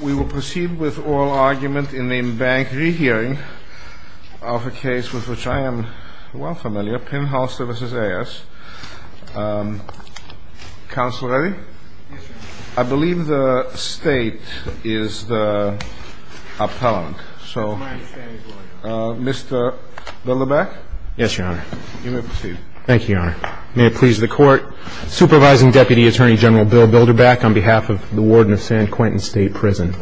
We will proceed with oral argument in the bank rehearing of a case with which I am well familiar, Penholster v. Ayers. Counsel ready? I believe the State is the appellant. Mr. Bilderbach? Yes, Your Honor. Thank you, Your Honor. May it please the Court. Supervising Deputy Attorney General Bill Bilderbach on behalf of the Warden of San Quentin State Prison.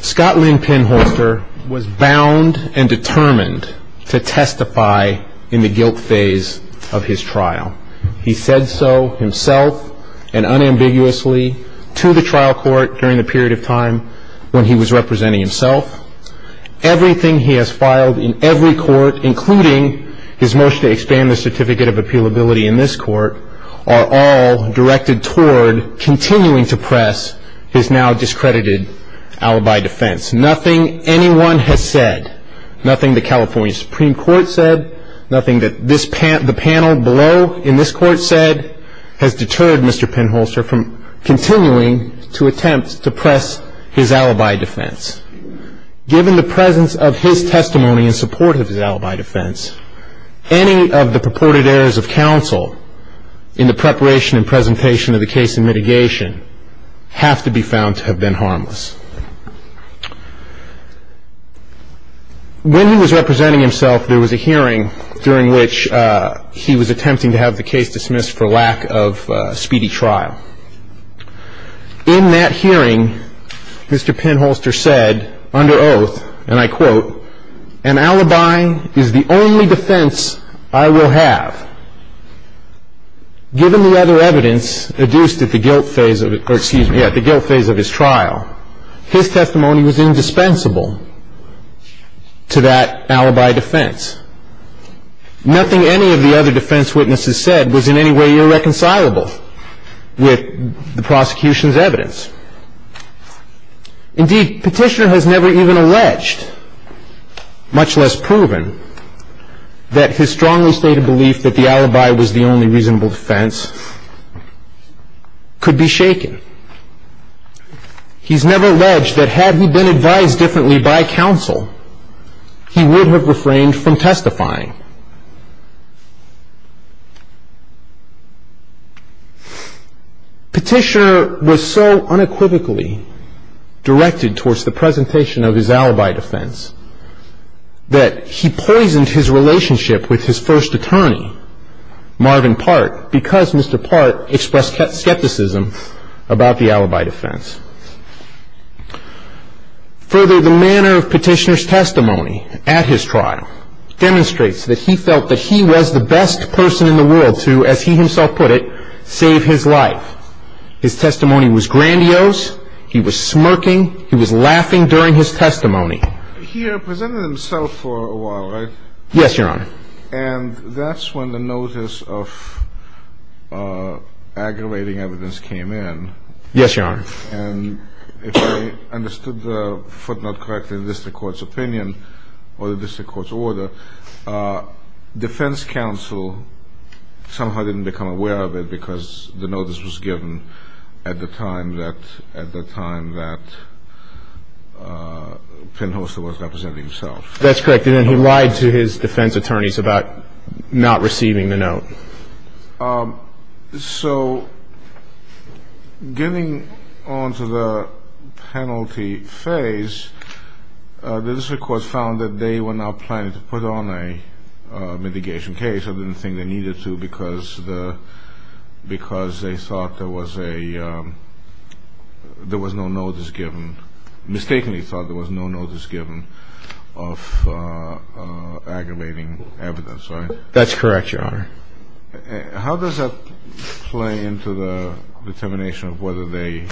Scott Lynn Penholster was bound and determined to testify in the guilt phase of his trial. He said so himself and unambiguously to the trial court during the period of time when he was representing himself. Everything he has filed in every court, including his motion to expand the certificate of appealability in this court, are all directed toward continuing to press his now discredited alibi defense. Nothing anyone has said, nothing the California Supreme Court said, nothing that the panel below in this court said has deterred Mr. Penholster from continuing to attempt to press his alibi defense. Given the presence of his testimony in support of his alibi defense, any of the purported errors of counsel in the preparation and presentation of the case in mitigation have to be found to have been harmless. When he was representing himself, there was a hearing during which he was attempting to have the case dismissed for lack of speedy trial. In that hearing, Mr. Penholster said under oath, and I quote, an alibi is the only defense I will have. Given the other evidence adduced at the guilt phase of his trial, his testimony was indispensable to that alibi defense. Nothing any of the other defense witnesses said was in any way irreconcilable with the prosecution's evidence. Indeed, Petitioner has never even alleged, much less proven, that his strongly stated belief that the alibi was the only reasonable defense could be shaken. He's never alleged that had he been advised differently by counsel, he would have refrained from testifying. Petitioner was so unequivocally directed towards the presentation of his alibi defense that he poisoned his relationship with his first attorney, Marvin Part, because Mr. Part expressed skepticism about the alibi defense. Further, the manner of Petitioner's testimony at his trial demonstrates that he felt that he was the best person in the world to, as he himself put it, save his life. His testimony was grandiose, he was smirking, he was laughing during his testimony. He represented himself for a while, right? Yes, Your Honor. And that's when the notice of aggravating evidence came in. Yes, Your Honor. And if I understood the footnote correctly in the district court's opinion, or the district court's order, defense counsel somehow didn't become aware of it because the notice was given at the time that Penn Holster was representing himself. That's correct. And then he lied to his defense attorneys about not receiving the note. So getting on to the penalty phase, the district court found that they were not planning to put on a mitigation case. They didn't think they needed to because they thought there was no notice given, mistakenly thought there was no notice given of aggravating evidence, right? That's correct, Your Honor. How does that play into the determination of whether they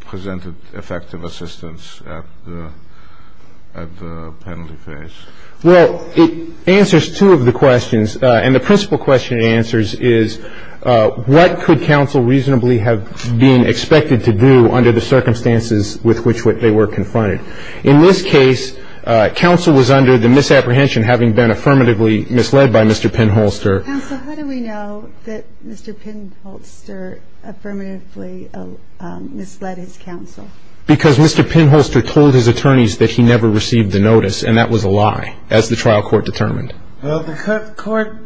presented effective assistance at the penalty phase? Well, it answers two of the questions, and the principal question it answers is, what could counsel reasonably have been expected to do under the circumstances with which they were confronted? In this case, counsel was under the misapprehension having been affirmatively misled by Mr. Penn Holster. Counsel, how do we know that Mr. Penn Holster affirmatively misled his counsel? Because Mr. Penn Holster told his attorneys that he never received the notice, and that was a lie, as the trial court determined. Well, the court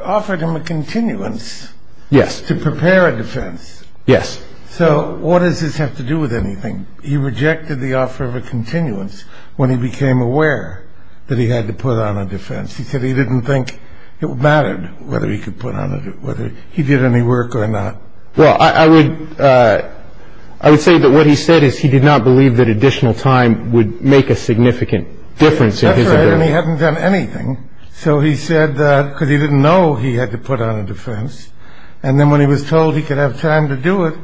offered him a continuance. Yes. To prepare a defense. Yes. So what does this have to do with anything? He rejected the offer of a continuance when he became aware that he had to put on a defense. He said he didn't think it mattered whether he could put on a defense, whether he did any work or not. Well, I would say that what he said is he did not believe that additional time would make a significant difference. That's right. And he hadn't done anything. So he said that because he didn't know he had to put on a defense. And then when he was told he could have time to do it,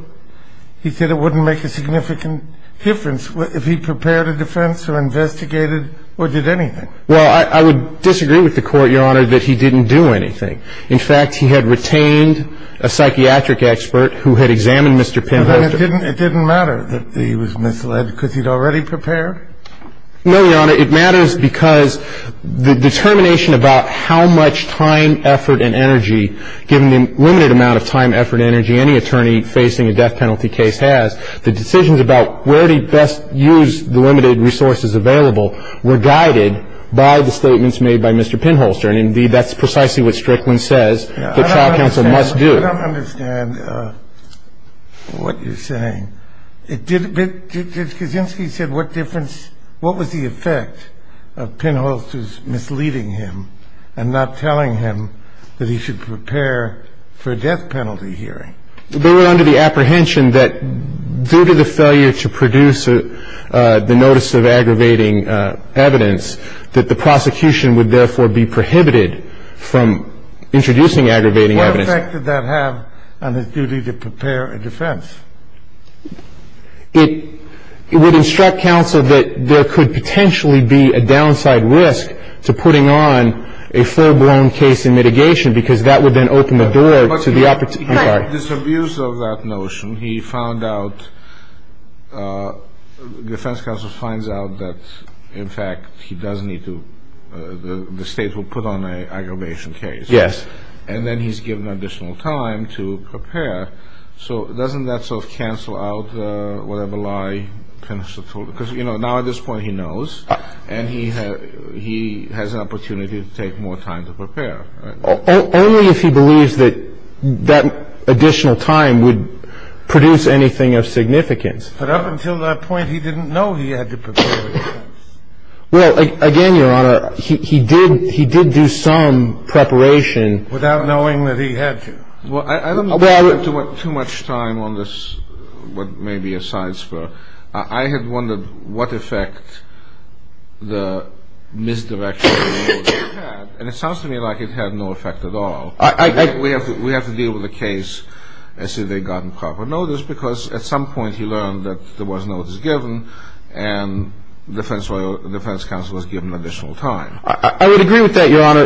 he said it wouldn't make a significant difference if he prepared a defense or investigated or did anything. Well, I would disagree with the court, Your Honor, that he didn't do anything. In fact, he had retained a psychiatric expert who had examined Mr. Penn Holster. But it didn't matter that he was misled because he'd already prepared? No, Your Honor. It matters because the determination about how much time, effort, and energy, given the limited amount of time, effort, and energy any attorney facing a death penalty case has, the decisions about where to best use the limited resources available were guided by the statements made by Mr. Penn Holster. And, indeed, that's precisely what Strickland says the trial counsel must do. I don't understand what you're saying. Kaczynski said what was the effect of Penn Holster's misleading him and not telling him that he should prepare for a death penalty hearing? They were under the apprehension that due to the failure to produce the notice of aggravating evidence, that the prosecution would therefore be prohibited from introducing aggravating evidence. What effect did that have on his duty to prepare a defense? It would instruct counsel that there could potentially be a downside risk to putting on a full-blown case in mitigation because that would then open the door to the opportunity. Despite this abuse of that notion, he found out, the defense counsel finds out that, in fact, he does need to, the state will put on an aggravation case. And then he's given additional time to prepare. So doesn't that sort of cancel out whatever lie Penn Holster told? Because, you know, now at this point he knows. And he has an opportunity to take more time to prepare. Only if he believes that that additional time would produce anything of significance. But up until that point, he didn't know he had to prepare. Well, again, Your Honor, he did do some preparation. Without knowing that he had to. Well, I don't want to put too much time on this, what may be a science for it. I had wondered what effect the misdirection of the notice would have. And it sounds to me like it had no effect at all. We have to deal with the case as if they'd gotten proper notice because at some point he learned that there was notice given. And the defense counsel was given additional time. I would agree with that, Your Honor.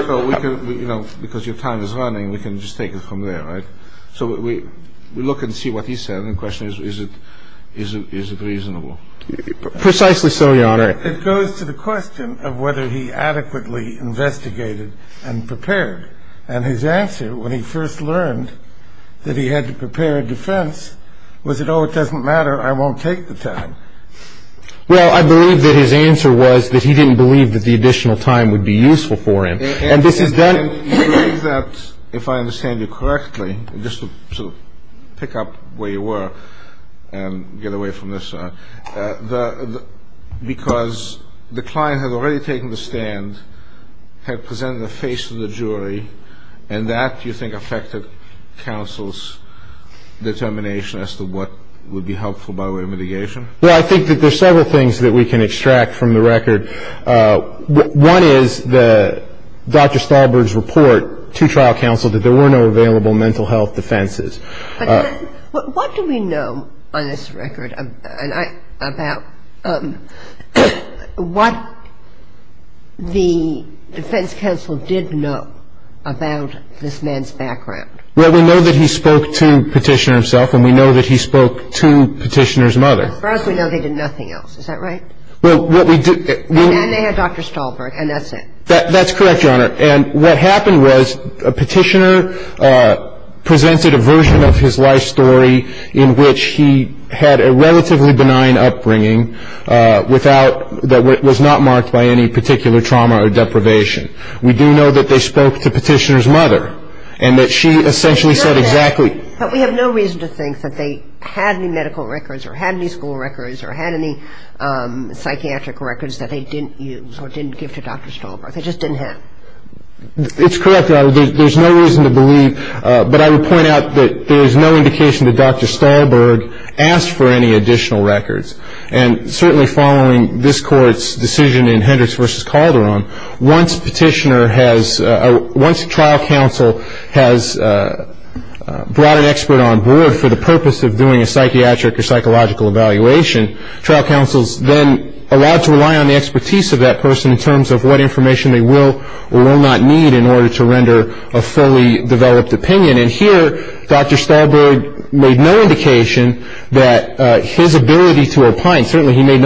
Because your time is running, we can just take it from there, right? So we look and see what he said. The question is, is it reasonable? Precisely so, Your Honor. It goes to the question of whether he adequately investigated and prepared. And his answer when he first learned that he had to prepare a defense was, you know, it doesn't matter. I won't take the time. Well, I believe that his answer was that he didn't believe that the additional time would be useful for him. And this is that if I understand you correctly, just to pick up where you were and get away from this. Because the client had already taken the stand, had presented their face to the jury, and that, do you think, affected counsel's determination as to what would be helpful by way of mitigation? Well, I think that there's several things that we can extract from the record. One is Dr. Stahlberg's report to trial counsel that there were no available mental health defenses. But what do we know on this record about what the defense counsel did know about this man's background? Well, we know that he spoke to Petitioner himself, and we know that he spoke to Petitioner's mother. As far as we know, they did nothing else. Is that right? Well, what we do ñ And they had Dr. Stahlberg, and that's it. That's correct, Your Honor. And what happened was Petitioner presented a version of his life story in which he had a relatively benign upbringing that was not marked by any particular trauma or deprivation. We do know that they spoke to Petitioner's mother, and that she essentially said exactly But we have no reason to think that they had any medical records or had any school records or had any psychiatric records that they didn't use or didn't give to Dr. Stahlberg. They just didn't have them. It's correct, Your Honor. There's no reason to believe, but I would point out that there is no indication that Dr. Stahlberg asked for any additional records. And certainly following this Court's decision in Hendricks v. Calderon, once Petitioner has ñ once trial counsel has brought an expert on board for the purpose of doing a psychiatric or psychological evaluation, trial counsel is then allowed to rely on the expertise of that person in terms of what information they will or will not need in order to render a fully developed opinion. And here, Dr. Stahlberg made no indication that his ability to opine ñ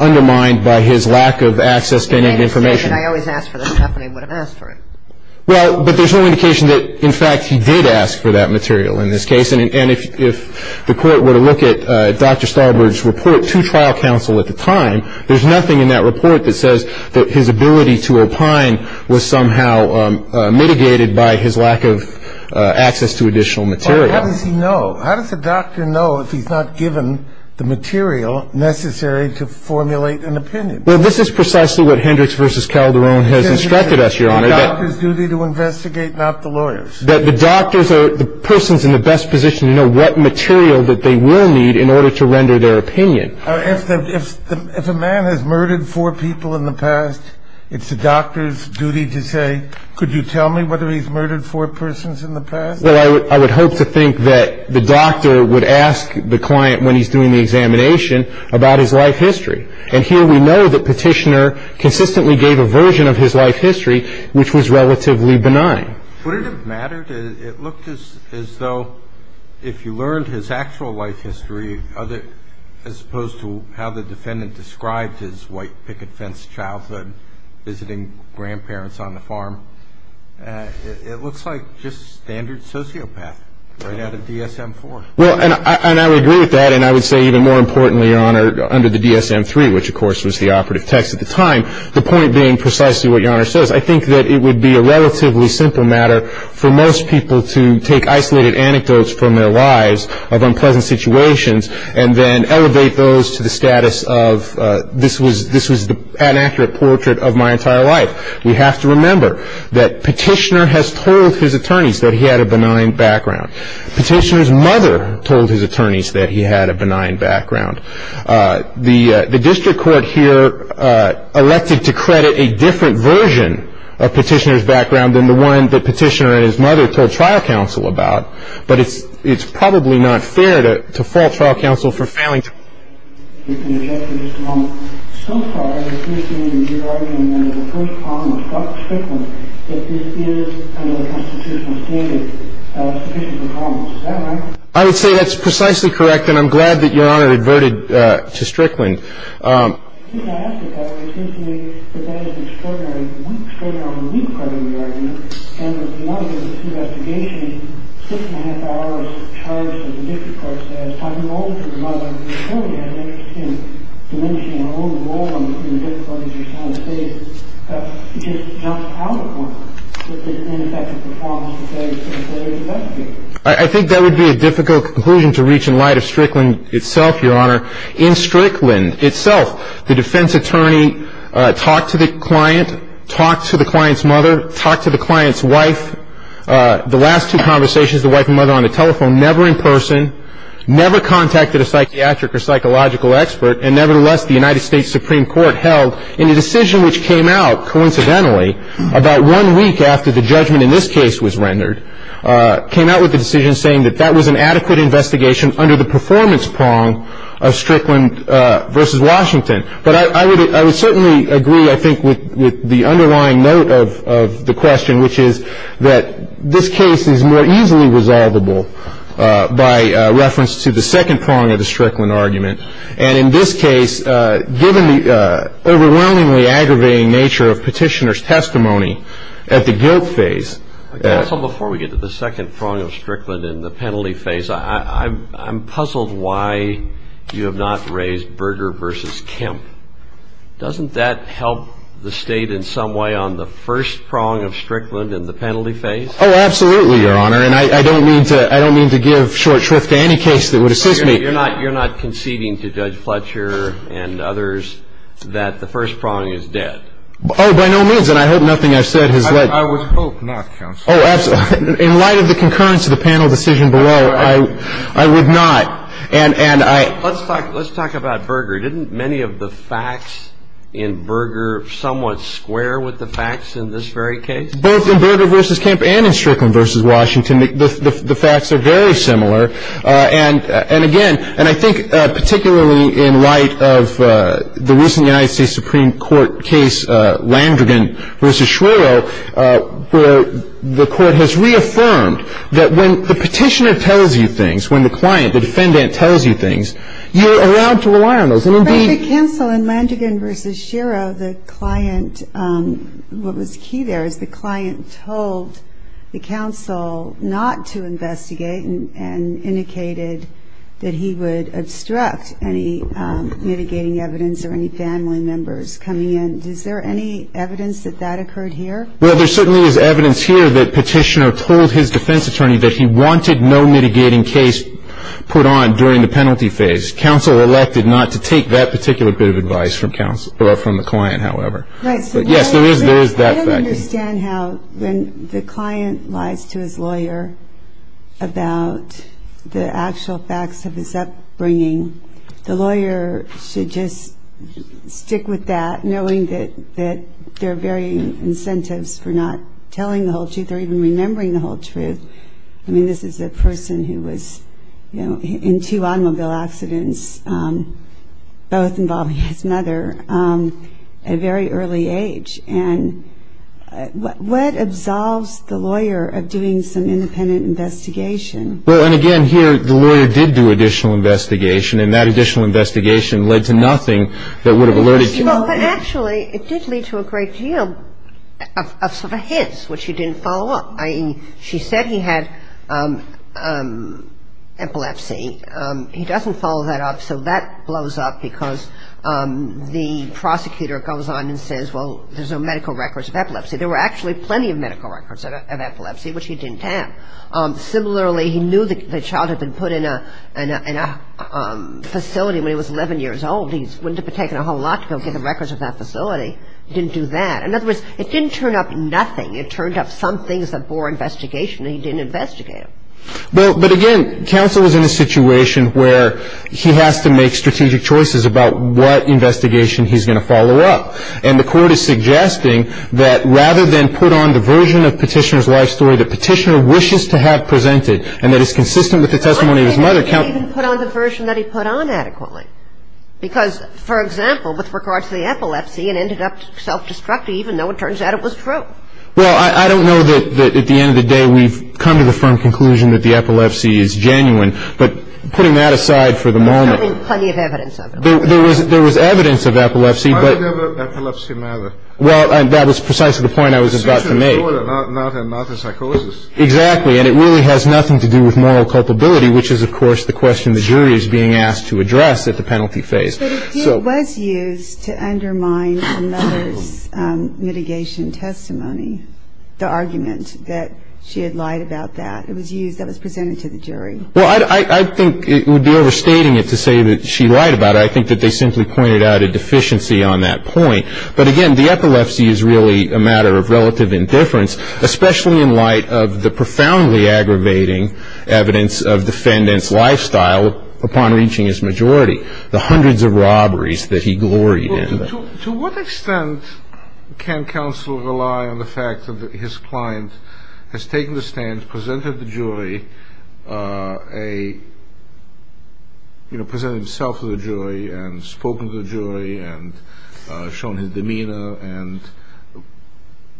undermined by his lack of access to any information. But I always ask for that. Half the time I would have asked for it. Well, but there's no indication that, in fact, he did ask for that material in this case. And if the Court were to look at Dr. Stahlberg's report to trial counsel at the time, there's nothing in that report that says that his ability to opine was somehow mitigated by his lack of access to additional material. How does he know? How does a doctor know if he's not given the material necessary to formulate an opinion? Well, this is precisely what Hendricks v. Calderon has instructed us, Your Honor. It's the doctor's duty to investigate, not the lawyer's. The doctors are the persons in the best position to know what material that they will need in order to render their opinion. If a man has murdered four people in the past, it's the doctor's duty to say, Well, I would hope to think that the doctor would ask the client when he's doing the examination about his life history. And here we know that Petitioner consistently gave a version of his life history which was relatively benign. Would it have mattered? It looked as though if you learned his actual life history as opposed to how the defendant described his white picket fence childhood, visiting grandparents on the farm, it looks like just standard sociopath. Or that of DSM-IV. Well, and I would agree with that, and I would say even more importantly, Your Honor, under the DSM-III, which of course was the operative text at the time, the point being precisely what Your Honor says. I think that it would be a relatively simple matter for most people to take isolated anecdotes from their lives of unpleasant situations and then elevate those to the status of this was an inaccurate portrait of my entire life. We have to remember that Petitioner has told his attorneys that he had a benign background. Petitioner's mother told his attorneys that he had a benign background. The district court here elected to credit a different version of Petitioner's background than the one that Petitioner and his mother told trial counsel about. But it's probably not fair to fault trial counsel for failing to address this problem. So far, it seems to me that Your Honor, under the first comment about Strickland, that this is under the constitutional standard of sufficient performance. Is that right? I would say that's precisely correct, and I'm glad that Your Honor adverted to Strickland. I think that would be a difficult conclusion to reach in light of Strickland itself, Your Honor. In Strickland itself, the defense attorney talked to the client, talked to the client's mother, talked to the client's wife. The last two conversations, the wife and mother on the telephone, never in person, never contacted a psychiatric or psychological expert, and nevertheless the United States Supreme Court held in a decision which came out coincidentally about one week after the judgment in this case was rendered, came out with a decision saying that that was an adequate investigation under the performance prong of Strickland v. Washington. But I would certainly agree, I think, with the underlying note of the question, which is that this case is more easily resolvable by reference to the second prong of the Strickland argument. And in this case, given the overwhelmingly aggravating nature of Petitioner's testimony at the guilt phase, so before we get to the second prong of Strickland in the penalty phase, I'm puzzled why you have not raised Berger v. Kemp. Doesn't that help the State in some way on the first prong of Strickland in the penalty phase? Oh, absolutely, Your Honor, and I don't mean to give short shrift to any case that would assist me. You're not conceding to Judge Fletcher and others that the first prong is dead? Oh, by no means, and I heard nothing I said is dead. I would hope not, counsel. Oh, absolutely. In light of the concurrence of the panel decision below, I would not. Let's talk about Berger. Didn't many of the facts in Berger somewhat square with the facts in this very case? Both in Berger v. Kemp and in Strickland v. Washington, the facts are very similar. And again, and I think particularly in light of the recent United States Supreme Court case, Landrigan v. Shiro, the court has reaffirmed that when the petitioner tells you things, when the client, the defendant, tells you things, you're allowed to alarm them. In Berger v. Kemp and Landrigan v. Shiro, the client, what was key there, the client told the counsel not to investigate and indicated that he would obstruct any mitigating evidence or any family members coming in. Is there any evidence that that occurred here? Well, there certainly is evidence here that petitioner told his defense attorney that he wanted no mitigating case put on during the penalty phase. Counsel elected not to take that particular bit of advice from the client, however. I don't understand how when the client lies to his lawyer about the actual facts of his upbringing, the lawyer should just stick with that, knowing that there are varying incentives for not telling the whole truth or even remembering the whole truth. I mean, this is a person who was in two automobile accidents, both involving his mother. A very early age. And what absolves the lawyer of doing some independent investigation? Well, and again, here, the lawyer did do additional investigation, and that additional investigation led to nothing that would have alerted him. Actually, it did lead to a great deal of sort of hints, which he didn't follow up. I mean, she said he had epilepsy. He doesn't follow that up, so that blows up because the prosecutor goes on and says, well, there's no medical records of epilepsy. There were actually plenty of medical records of epilepsy, which he didn't have. Similarly, he knew that the child had been put in a facility when he was 11 years old. He wouldn't have taken a whole lot to go get the records of that facility. He didn't do that. In other words, it didn't turn up nothing. It turned up some things before investigation that he didn't investigate. Well, but again, Counsel is in a situation where he has to make strategic choices about what investigation he's going to follow up. And the court is suggesting that rather than put on the version of Petitioner's life story that Petitioner wishes to have presented and that is consistent with the testimony of his mother, Counsel should put on the version that he put on adequately. Because, for example, with regard to the epilepsy, it ended up self-destructive, even though it turns out it was true. Well, I don't know that at the end of the day we've come to the firm conclusion that the epilepsy is genuine. But putting that aside for the moment, there was evidence of epilepsy. How does epilepsy matter? Well, that was precisely the point I was about to make. It's usually more than a matter of psychosis. Exactly. And it really has nothing to do with moral culpability, which is, of course, the question the jury is being asked to address at the penalty phase. But if it was used to undermine another's mitigation testimony, the argument that she had lied about that, it was used that was presented to the jury. Well, I think it would be overstating it to say that she lied about it. I think that they simply pointed out a deficiency on that point. But, again, the epilepsy is really a matter of relative indifference, especially in light of the profoundly aggravating evidence of defendant's lifestyle upon reaching his majority. The hundreds of robberies that he gloried in. To what extent can counsel rely on the fact that his client has taken the stand, presented to the jury, presented himself to the jury, and spoken to the jury, and shown his demeanor?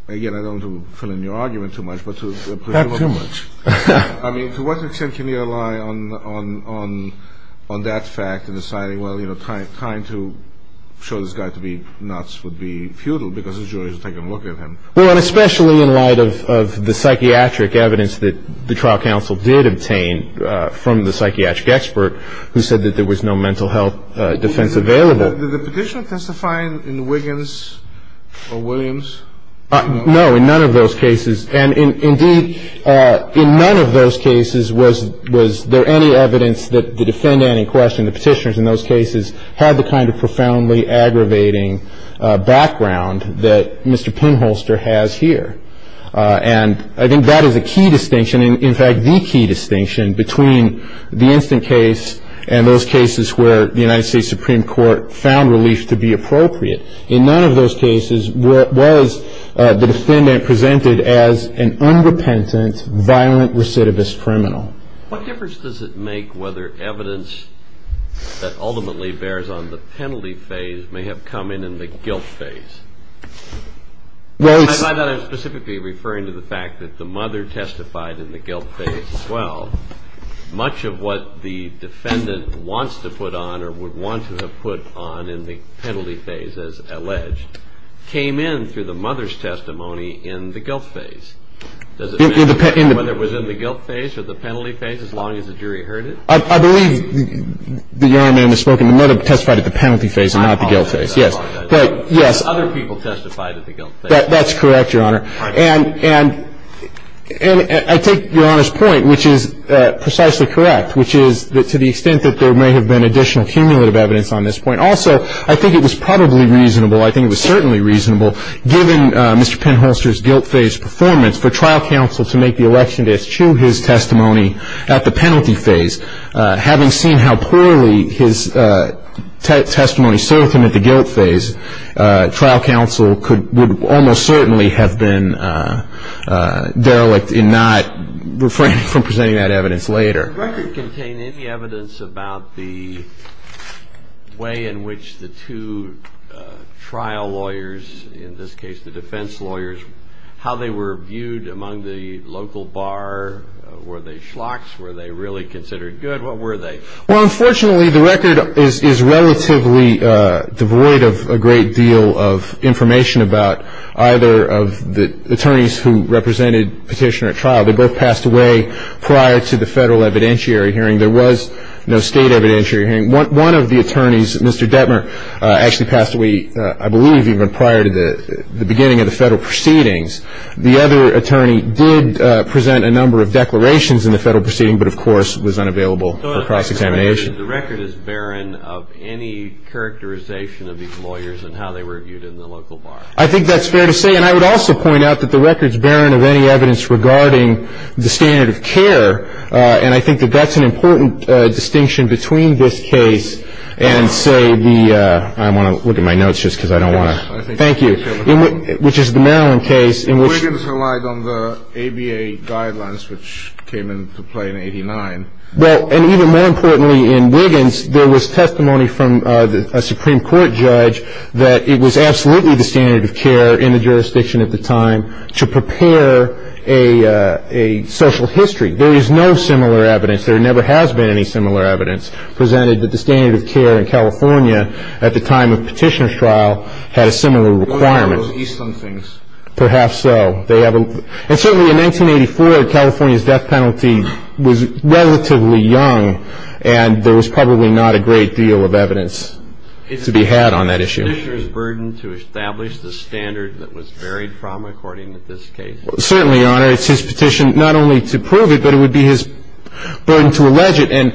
Again, I don't want to fill in your argument too much. Not too much. I mean, to what extent can you rely on that fact in deciding, well, you know, trying to show this guy to be nuts would be futile because the jury is taking a look at him? Well, especially in light of the psychiatric evidence that the trial counsel did obtain from the psychiatric expert who said that there was no mental health defense available. Did the petition testify in Wiggins or Williams? No, in none of those cases. And, indeed, in none of those cases was there any evidence that the defendant in question, the petitioners in those cases, had the kind of profoundly aggravating background that Mr. Pinholster has here. And I think that is a key distinction, in fact, the key distinction, between the instant case and those cases where the United States Supreme Court found relief to be appropriate. In none of those cases was the defendant presented as an unrepentant, violent recidivist criminal. What difference does it make whether evidence that ultimately bears on the penalty phase may have come in in the guilt phase? And I'm not specifically referring to the fact that the mother testified in the guilt phase as well. Much of what the defendant wants to put on or would want to have put on in the penalty phase, as alleged, came in through the mother's testimony in the guilt phase. Does it matter whether it was in the guilt phase or the penalty phase as long as the jury heard it? I believe the young man has spoken. The mother testified at the penalty phase and not the guilt phase, yes. Other people testified at the guilt phase. That's correct, Your Honor. And I take Your Honor's point, which is precisely correct, which is to the extent that there may have been additional cumulative evidence on this point. Also, I think it was probably reasonable, I think it was certainly reasonable, given Mr. Penholster's guilt phase performance for trial counsel to make the election case to his testimony at the penalty phase. Having seen how poorly his testimony served him at the guilt phase, trial counsel would almost certainly have been derelict in not refraining from presenting that evidence later. Does the record contain any evidence about the way in which the two trial lawyers, in this case the defense lawyers, how they were viewed among the local bar? Were they schlocks? Were they really considered good? What were they? Well, unfortunately, the record is relatively devoid of a great deal of information about either of the attorneys who represented Petitioner at trial. They both passed away prior to the federal evidentiary hearing. There was no state evidentiary hearing. One of the attorneys, Mr. Detmer, actually passed away, I believe, even prior to the beginning of the federal proceedings. The other attorney did present a number of declarations in the federal proceeding, but, of course, was unavailable for cross-examination. The record is barren of any characterization of these lawyers and how they were viewed in the local bar. I think that's fair to say, and I would also point out that the record is barren of any evidence regarding the standard of care, and I think that that's an important distinction between this case and, say, the – I'm looking at my notes just because I don't want to – thank you – which is the Maryland case in which – Wiggins relied on the ABA guidelines, which came into play in 89. Well, and even more importantly, in Wiggins, there was testimony from a Supreme Court judge that it was absolutely the standard of care in the jurisdiction at the time to prepare a social history. There is no similar evidence. There never has been any similar evidence presented that the standard of care in California at the time of Petitioner's trial had a similar requirement. Those Eastland things. Perhaps so. They have a – and certainly in 1984, California's death penalty was relatively young, and there was probably not a great deal of evidence to be had on that issue. Is Petitioner's burden to establish the standard that was varied from, according to this case? Certainly, Your Honor. It's his petition not only to prove it, but it would be his burden to allege it. And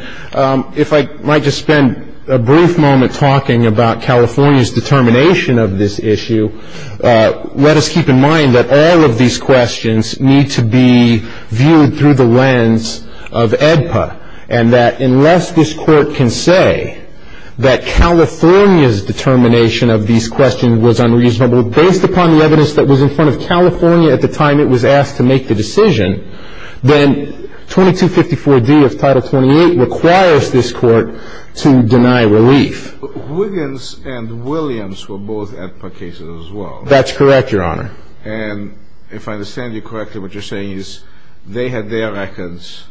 if I might just spend a brief moment talking about California's determination of this issue, let us keep in mind that all of these questions need to be viewed through the lens of AEDPA and that unless this Court can say that California's determination of these questions was unreasonable, based upon the evidence that was in front of California at the time it was asked to make the decision, then 2254D of Title 28 requires this Court to deny relief. Wiggins and Williams were both AEDPA cases as well. That's correct, Your Honor. And if I understand you correctly, what you're saying is they had their records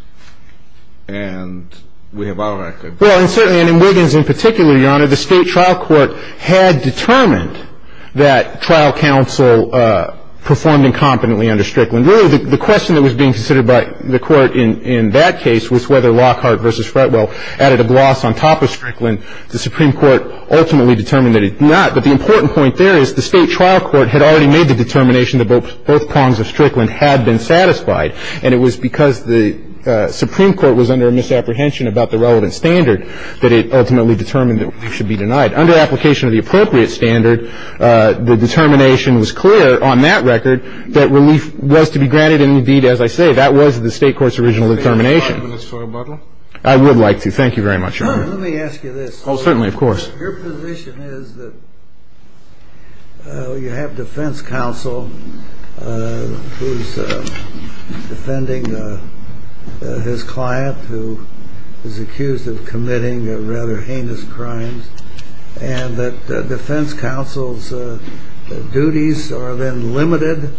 and we have our records. Well, and certainly in Wiggins in particular, Your Honor, the State Trial Court had determined that trial counsel performed incompetently under Strickland. Really, the question that was being considered by the Court in that case was whether Lockhart v. Fretwell added a gloss on top of Strickland. The Supreme Court ultimately determined that it did not. But the important point there is the State Trial Court had already made the determination that both prongs of Strickland had been satisfied, and it was because the Supreme Court was under misapprehension about the relevant standard that it ultimately determined it should be denied. Under application of the appropriate standard, the determination was clear on that record that relief was to be granted, and indeed, as I say, that was the State Court's original determination. Can I respond to this for a moment? I would like to. Thank you very much, Your Honor. Let me ask you this. Oh, certainly, of course. Your position is that you have defense counsel who is defending his client who is accused of committing rather heinous crimes, and that defense counsel's duties are then limited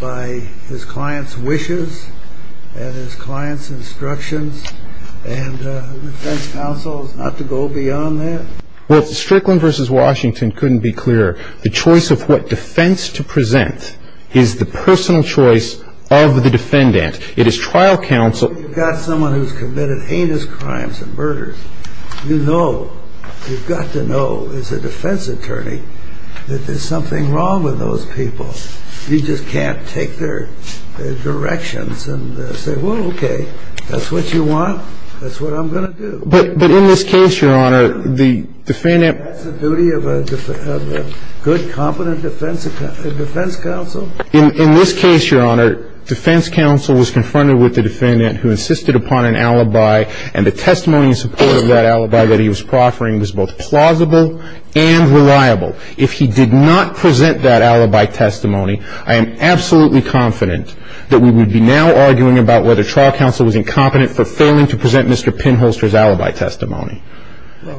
by his client's wishes and his client's instructions, and defense counsel is not to go beyond that? Well, Strickland v. Washington couldn't be clearer. The choice of what defense to present is the personal choice of the defendant. It is trial counsel. You've got someone who's committed heinous crimes and murders. You know, you've got to know as a defense attorney that there's something wrong with those people. You just can't take their directions and say, well, okay, if that's what you want, that's what I'm going to do. But in this case, Your Honor, the defendant — Is that the duty of a good, competent defense counsel? In this case, Your Honor, defense counsel was confronted with the defendant who insisted upon an alibi, and the testimony in support of that alibi that he was proffering was both plausible and reliable. If he did not present that alibi testimony, I am absolutely confident that we would be now arguing about whether trial counsel was incompetent for failing to present Mr. Penholster's alibi testimony.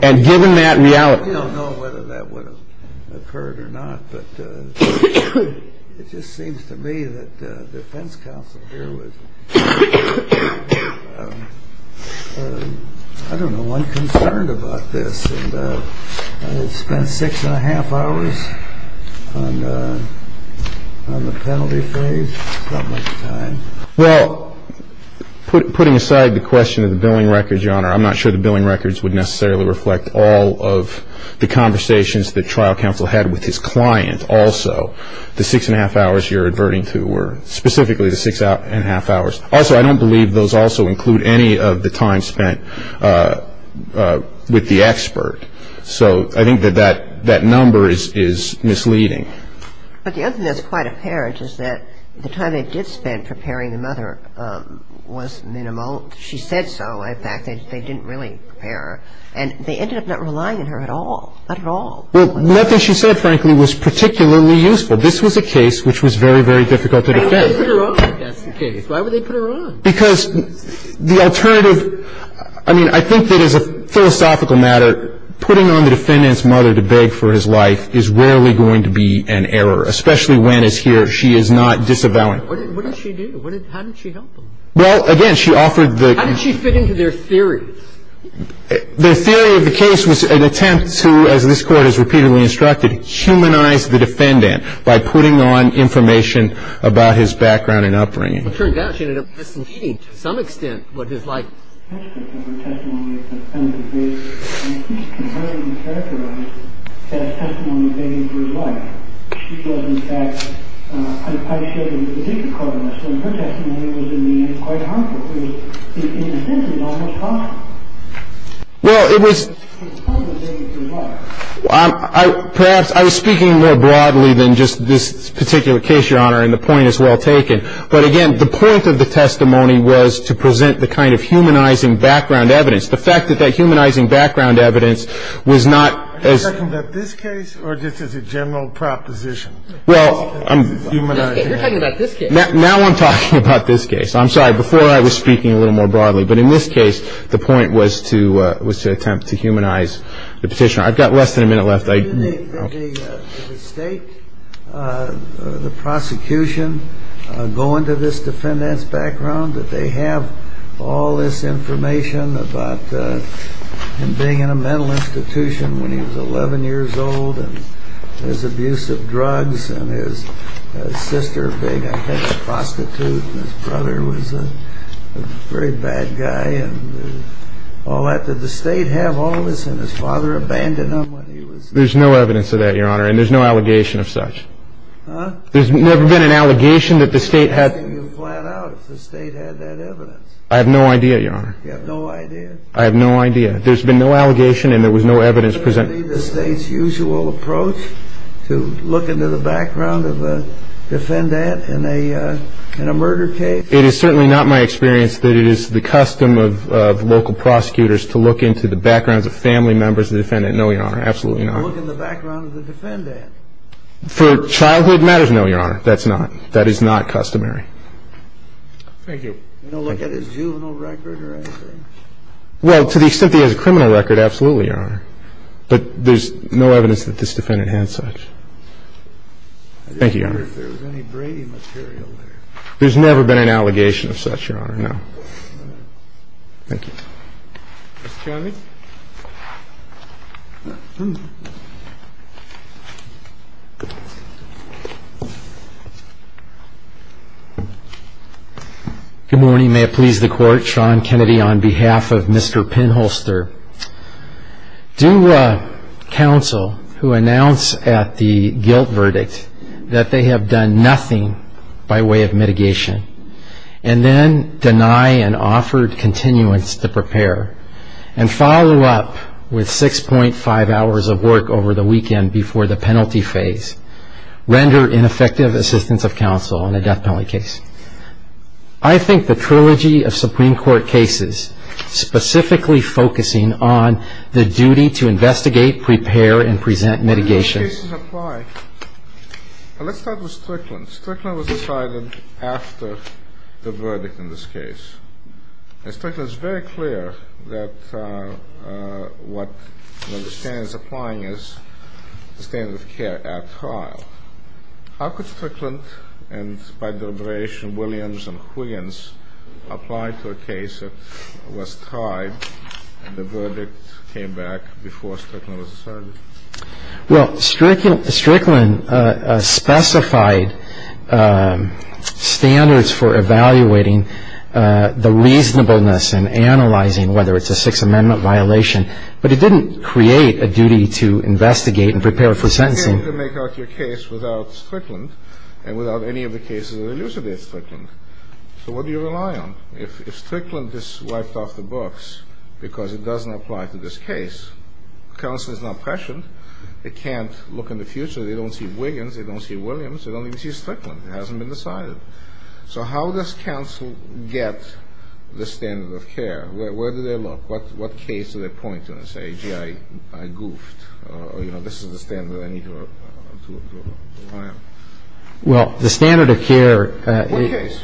And given that reality — I don't know whether that would have occurred or not, but it just seems to me that the defense counsel here was — Six and a half hours on the penalty page? Well, putting aside the question of the billing records, Your Honor, I'm not sure the billing records would necessarily reflect all of the conversations that trial counsel had with his client also. The six and a half hours you're adverting to were specifically the six and a half hours. Also, I don't believe those also include any of the time spent with the expert. So I think that that number is misleading. But the other thing that's quite apparent is that the time they did spend preparing the mother was minimal. She said so. In fact, they didn't really prepare her. And they ended up not relying on her at all, not at all. Well, nothing she said, frankly, was particularly useful. This was a case which was very, very difficult to defend. Why would they put her on? Because the alternative — I mean, I think that as a philosophical matter, putting on the defendant's mother to beg for his life is rarely going to be an error, especially when, as here, she is not disavowed. What did she do? How did she help him? Well, again, she offered the — How did she fit into their theories? The theory of the case was an attempt to, as this Court has repeatedly instructed, humanize the defendant by putting on information about his background and upbringing. It turns out she ended up disobeying, to some extent, what his life was. That's the kind of testimony that the defendant gives. I mean, he can hardly characterize that testimony as begging for his life. She does, in fact. I shared it with the district court on this. And her testimony was, in the end, quite harmful. It was, in the end, almost hostile. Well, it was — It's part of begging for his life. Perhaps I was speaking more broadly than just this particular case, Your Honor. And the point is well taken. But, again, the point of the testimony was to present the kind of humanizing background evidence. The fact that that humanizing background evidence was not — Are you talking about this case or just as a general proposition? Well, I'm — Humanizing. You're talking about this case. Now I'm talking about this case. I'm sorry. Before, I was speaking a little more broadly. But in this case, the point was to attempt to humanize the petitioner. I've got less than a minute left. Didn't the state, the prosecution, go into this defendant's background? That they have all this information about him being in a mental institution when he was 11 years old, and his abuse of drugs, and his sister being, I think, a prostitute. His brother was a very bad guy. Oh, did the state have all this, and his father abandoned him when he was — There's no evidence of that, Your Honor, and there's no allegation of such. Huh? There's never been an allegation that the state had — How can you point out if the state had that evidence? I have no idea, Your Honor. You have no idea? I have no idea. There's been no allegation, and there was no evidence presented. Is that really the state's usual approach, to look into the background of a defendant in a murder case? It is certainly not my experience that it is the custom of local prosecutors to look into the backgrounds of family members of the defendant. No, Your Honor, absolutely not. To look in the background of the defendant? For childhood matters, no, Your Honor. That's not — that is not customary. Thank you. They don't look at his juvenile record or anything? Well, to the extent he has a criminal record, absolutely, Your Honor. But there's no evidence that this defendant has such. Thank you, Your Honor. I don't know if there's any Brady material there. There's never been an allegation of such, Your Honor, no. Thank you. Mr. Kennedy? Good morning. May it please the Court. Sean Kennedy on behalf of Mr. Penholster. Do counsel who announce at the guilt verdict that they have done nothing by way of mitigation and then deny an offered continuance to prepare and follow up with 6.5 hours of work over the weekend before the penalty phase render ineffective assistance of counsel in a death penalty case? I think the trilogy of Supreme Court cases specifically focusing on the duty to investigate, prepare, and present mitigation. The cases apply. Let's start with Strickland. Strickland was decided after the verdict in this case. And Strickland is very clear that what the standard is applying is the standard of care at trial. How could Strickland, and by deliberation Williams and Huygens, apply to a case that was tried and the verdict came back before Strickland was decided? Well, Strickland specified standards for evaluating the reasonableness and analyzing whether it's a Sixth Amendment violation, but it didn't create a duty to investigate and prepare for sentencing. You can't make out your case without Strickland and without any of the cases that elucidate Strickland. So what do you rely on? If Strickland is wiped off the books because it doesn't apply to this case, counsel is not pressured. They can't look in the future. They don't see Huygens. They don't see Williams. They don't even see Strickland. It hasn't been decided. So how does counsel get the standard of care? Where do they look? What case do they point to and say, gee, I goofed, or, you know, this is the standard I need to apply? Well, the standard of care- What case?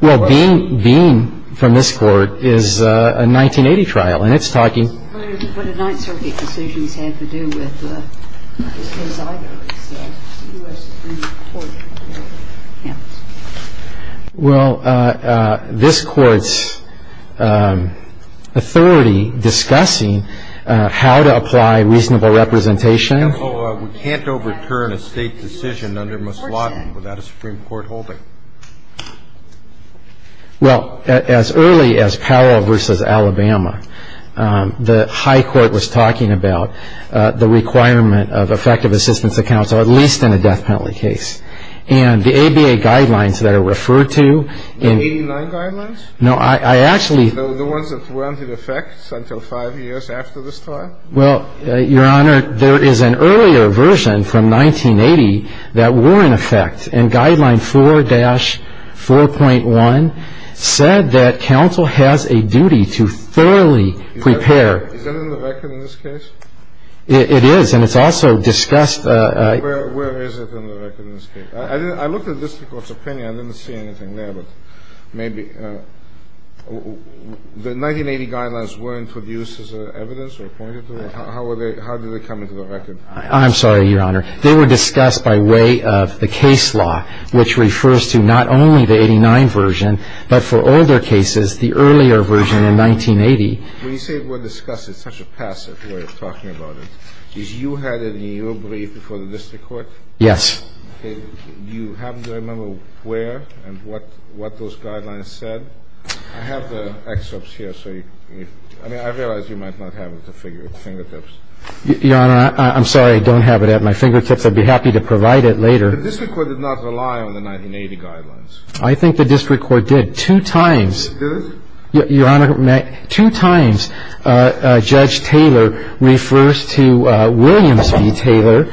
Well, being from this Court is a 1980 trial, and it's talking- But a Ninth Circuit decision had to do with the case either. Well, this Court's authority discussing how to apply reasonable representation- We can't overturn a state decision under Mousladen without a Supreme Court holding. Well, as early as Powell v. Alabama, the high court was talking about the requirement of effective assistance to counsel, at least in a death penalty case. And the ABA guidelines that are referred to- The 89 guidelines? No, I actually- The ones that were in effect for five years after this trial? Well, Your Honor, there is an earlier version from 1980 that were in effect, and Guideline 4-4.1 said that counsel has a duty to thoroughly prepare- Is that in the record in this case? It is, and it's also discussed- Where is it in the record in this case? I looked at this Court's opinion. I didn't see anything there, but maybe- The 1980 guidelines weren't produced as evidence or pointed to? How did they come into the record? I'm sorry, Your Honor. They were discussed by way of the case law, which refers to not only the 89 version, but for older cases, the earlier version in 1980- When you say it was discussed, it's such a passive way of talking about it. Did you have it in your brief before the district court? Yes. Okay. Do you happen to remember where and what those guidelines said? I have the excerpts here, so you- I mean, I realize you might not have it at your fingertips. Your Honor, I'm sorry I don't have it at my fingertips. I'd be happy to provide it later. The district court did not rely on the 1980 guidelines. I think the district court did, two times. It did? Your Honor, two times, Judge Taylor refers to William C. Taylor,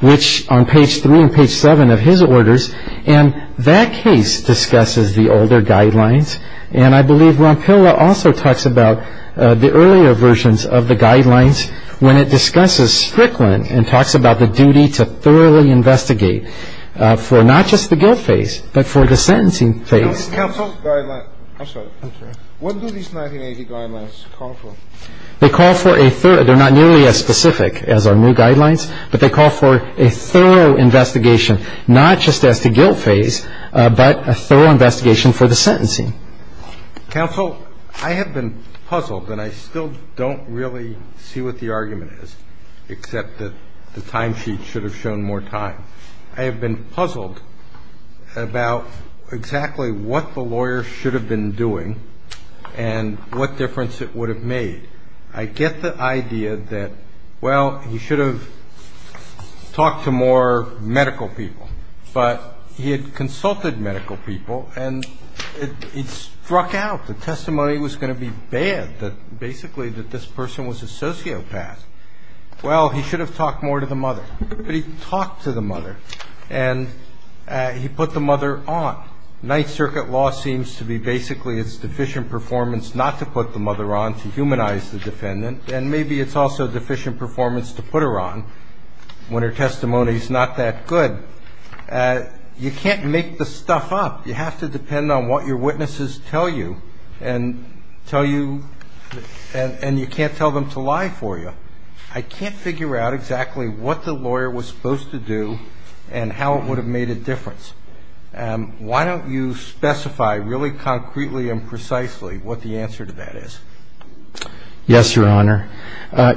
which on page 3 and page 7 of his orders, and that case discusses the older guidelines, and I believe Ronpilla also talks about the earlier versions of the guidelines when it discusses Strickland and talks about the duty to thoroughly investigate for not just the guilt phase, but for the sentencing phase. Counsel, what do these 1980 guidelines call for? They call for a thorough-they're not nearly as specific as our new guidelines, but they call for a thorough investigation, not just as the guilt phase, but a thorough investigation for the sentencing. Counsel, I have been puzzled, and I still don't really see what the argument is, except that the time sheet should have shown more time. I have been puzzled about exactly what the lawyer should have been doing and what difference it would have made. I get the idea that, well, he should have talked to more medical people, but he had consulted medical people, and it struck out. The testimony was going to be bad, that basically this person was a sociopath. Well, he should have talked more to the mother. But he talked to the mother, and he put the mother on. Ninth Circuit law seems to be basically it's deficient performance not to put the mother on to humanize the defendant, and maybe it's also deficient performance to put her on when her testimony is not that good. You can't make the stuff up. You have to depend on what your witnesses tell you, and you can't tell them to lie for you. I can't figure out exactly what the lawyer was supposed to do and how it would have made a difference. Why don't you specify really concretely and precisely what the answer to that is? Yes, Your Honor.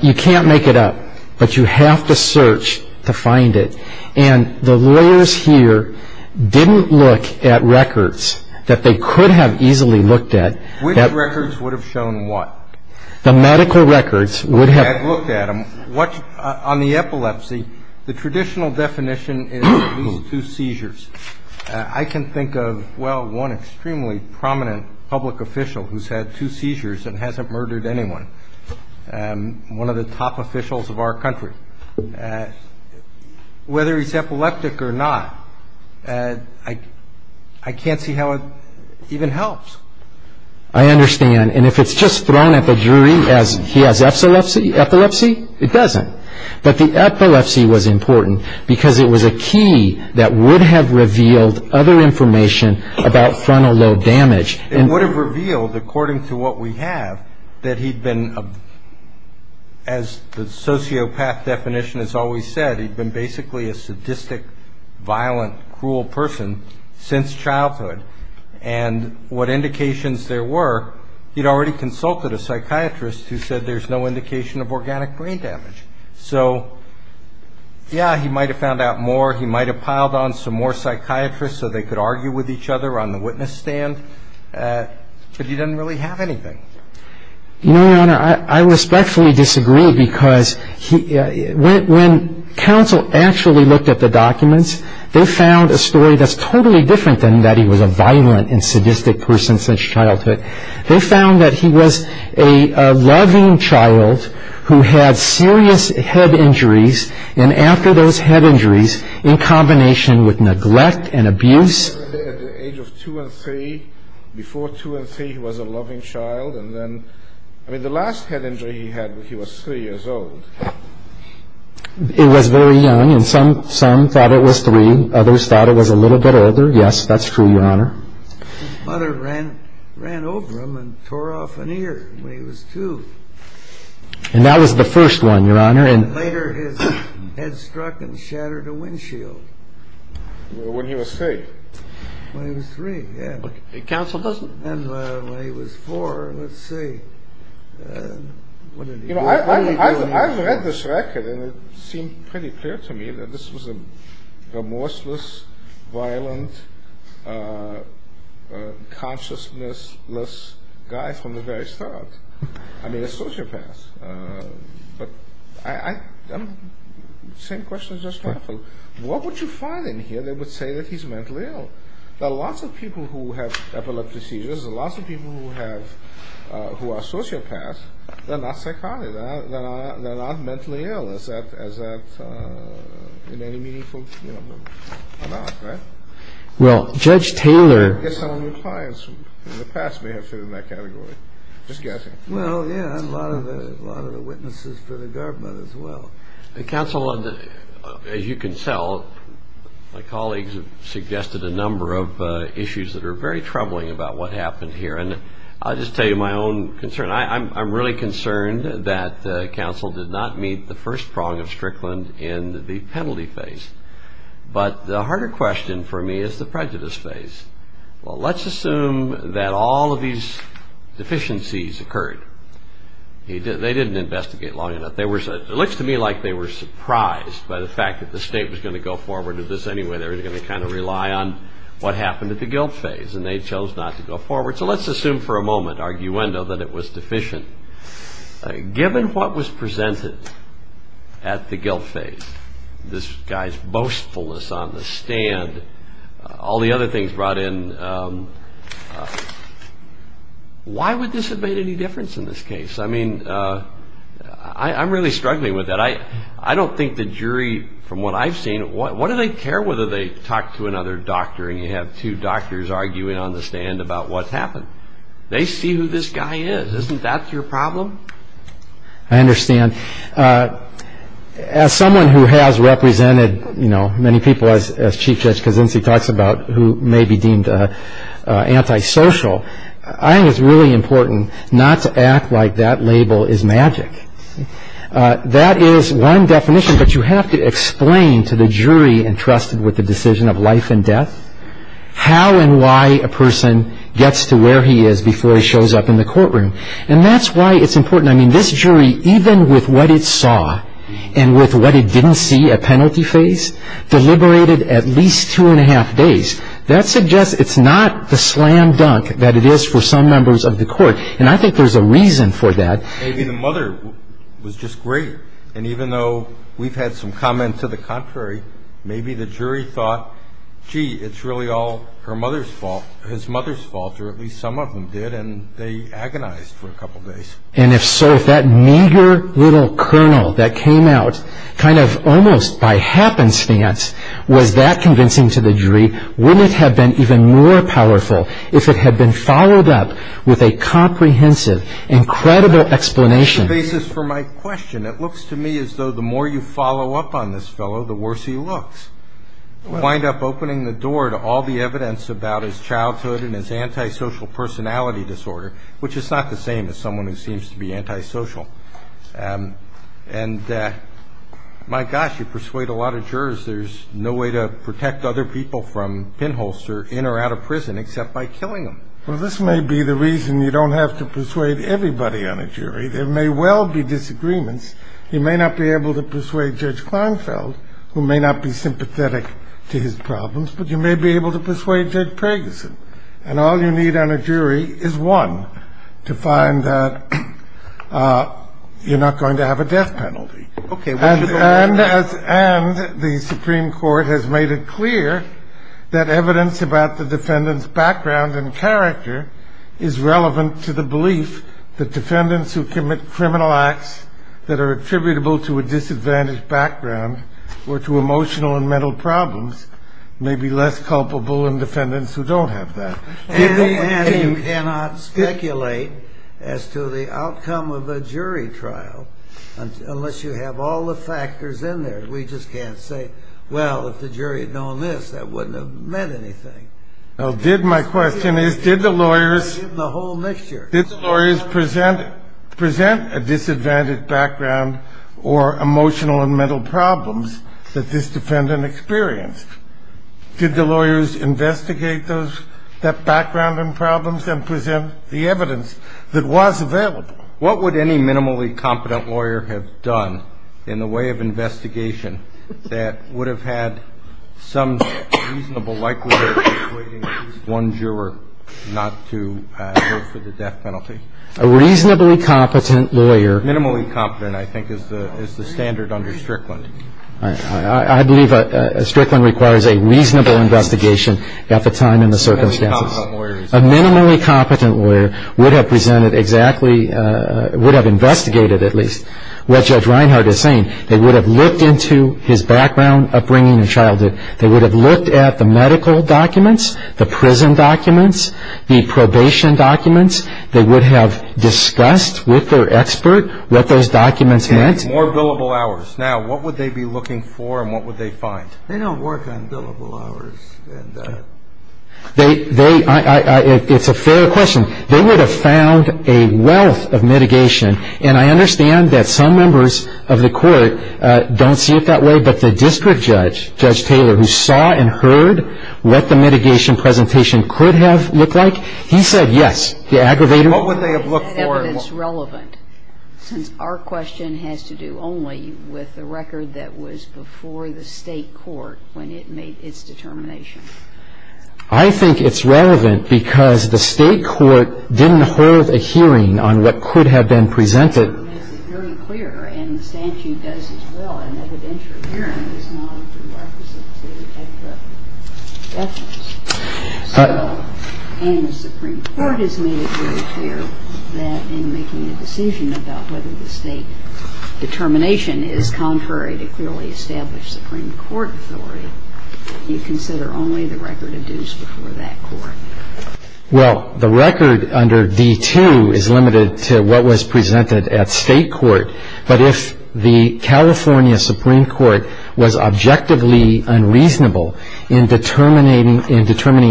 You can't make it up, but you have to search to find it. And the lawyers here didn't look at records that they could have easily looked at. Which records would have shown what? The medical records would have looked at them. On the epilepsy, the traditional definition is two seizures. I can think of, well, one extremely prominent public official who's had two seizures and hasn't murdered anyone, one of the top officials of our country. Whether he's epileptic or not, I can't see how it even helps. I understand. And if it's just thrown at the jury as he has epilepsy, it doesn't. But the epilepsy was important because it was a key that would have revealed other information about frontal lobe damage. It would have revealed, according to what we have, that he'd been, as the sociopath definition has always said, he'd been basically a sadistic, violent, cruel person since childhood. And what indications there were, he'd already consulted a psychiatrist who said there's no indication of organic brain damage. So, yeah, he might have found out more. He might have piled on some more psychiatrists so they could argue with each other on the witness stand. But he doesn't really have anything. Your Honor, I respectfully disagree because when counsel actually looked at the documents, they found a story that's totally different than that he was a violent and sadistic person since childhood. They found that he was a loving child who had serious head injuries. And after those head injuries, in combination with neglect and abuse. At the age of two and three, before two and three, he was a loving child. And then, I mean, the last head injury he had, he was three years old. It was very young, and some thought it was three, others thought it was a little bit older. Yes, that's true, Your Honor. His mother ran over him and tore off an ear when he was two. And that was the first one, Your Honor. And later his head struck and shattered a windshield. When he was three. When he was three, yeah. Counsel doesn't. And when he was four, let's see. You know, I've read this record, and it seems pretty clear to me that this was a remorseless, violent, consciousnessless guy from the very start. I mean, a sociopath. But I'm, same question as just now. What would you find in here that would say that he's mentally ill? There are lots of people who have epileptic seizures. There are lots of people who are sociopaths. They're not psychotic. They're not mentally ill, as that, in any meaningful amount, right? Well, Judge Taylor. I guess some of your clients in the past may have fit in that category. Just guessing. Well, yeah, and a lot of the witnesses for the government as well. Counsel, as you can tell, my colleagues have suggested a number of issues that are very troubling about what happened here. And I'll just tell you my own concern. I'm really concerned that counsel did not meet the first prong of Strickland in the penalty phase. But the harder question for me is the prejudice phase. Well, let's assume that all of these deficiencies occurred. They didn't investigate long enough. It looks to me like they were surprised by the fact that the state was going to go forward with this anyway. They were going to kind of rely on what happened at the guilt phase. And they chose not to go forward. So let's assume for a moment, arguendo, that it was deficient. Given what was presented at the guilt phase, this guy's boastfulness on the stand, all the other things brought in, why would this have made any difference in this case? I mean, I'm really struggling with that. I don't think the jury, from what I've seen, what do they care whether they talk to another doctor and you have two doctors arguing on the stand about what's happened? They see who this guy is. Isn't that your problem? I understand. As someone who has represented, you know, many people, as Chief Judge Kazunsi talks about, who may be deemed antisocial, I think it's really important not to act like that label is magic. That is one definition, but you have to explain to the jury entrusted with the decision of life and death how and why a person gets to where he is before he shows up in the courtroom. And that's why it's important. I mean, this jury, even with what it saw and with what it didn't see at penalty phase, deliberated at least two and a half days. That suggests it's not the slam dunk that it is for some members of the court, and I think there's a reason for that. Maybe the mother was just great, and even though we've had some comments to the contrary, maybe the jury thought, gee, it's really all her mother's fault, his mother's fault, or at least some of them did, and they agonized for a couple days. And if so, if that meager little kernel that came out kind of almost by happenstance was that convincing to the jury, wouldn't it have been even more powerful if it had been followed up with a comprehensive, incredible explanation? This is for my question. It looks to me as though the more you follow up on this fellow, the worse he looks. You wind up opening the door to all the evidence about his childhood and his antisocial personality disorder, which is not the same as someone who seems to be antisocial. And, my gosh, you persuade a lot of jurors. There's no way to protect other people from pinholes, sir, in or out of prison except by killing them. Well, this may be the reason you don't have to persuade everybody on a jury. There may well be disagreements. You may not be able to persuade Judge Kleinfeld, who may not be sympathetic to his problems, but you may be able to persuade Judge Pragerson. And all you need on a jury is one to find that you're not going to have a death penalty. And the Supreme Court has made it clear that evidence about the defendant's background and character is relevant to the belief that defendants who commit criminal acts that are attributable to a disadvantaged background or to emotional and mental problems may be less culpable than defendants who don't have that. And you cannot speculate as to the outcome of a jury trial unless you have all the factors in there. We just can't say, well, if the jury had known this, that wouldn't have meant anything. My question is, did the lawyers present a disadvantaged background or emotional and mental problems that this defendant experienced? Did the lawyers investigate those backgrounds and problems and present the evidence that was available? What would any minimally competent lawyer have done in the way of investigation that would have had some reasonable likelihood of persuading at least one juror not to work for the death penalty? A reasonably competent lawyer. Minimally competent, I think, is the standard under Strickland. I believe Strickland requires a reasonable investigation at the time and the circumstances. A minimally competent lawyer would have investigated at least what Judge Reinhardt is saying. They would have looked into his background, upbringing, and childhood. They would have looked at the medical documents, the prison documents, the probation documents. They would have discussed with their expert what those documents meant. And more billable hours. Now, what would they be looking for and what would they find? They don't work on billable hours. It's a fair question. They would have found a wealth of mitigation. And I understand that some members of the court don't see it that way, but the district judge, Judge Taylor, who saw and heard what the mitigation presentation could have looked like, he said yes. What would they have looked for? Evidence relevant. Our question has to do only with the record that was before the state court when it made its determination. I think it's relevant because the state court didn't hold a hearing on what could have been presented. It's very clear, and the statute does as well, an evidentiary hearing is not a prerequisite to detect the evidence. So, when the Supreme Court has made it very clear that in making a decision about whether the state determination is contrary to clearly established Supreme Court authority, you consider only the record of dues before that court. Well, the record under D2 is limited to what was presented at state court, but if the California Supreme Court was objectively unreasonable in determining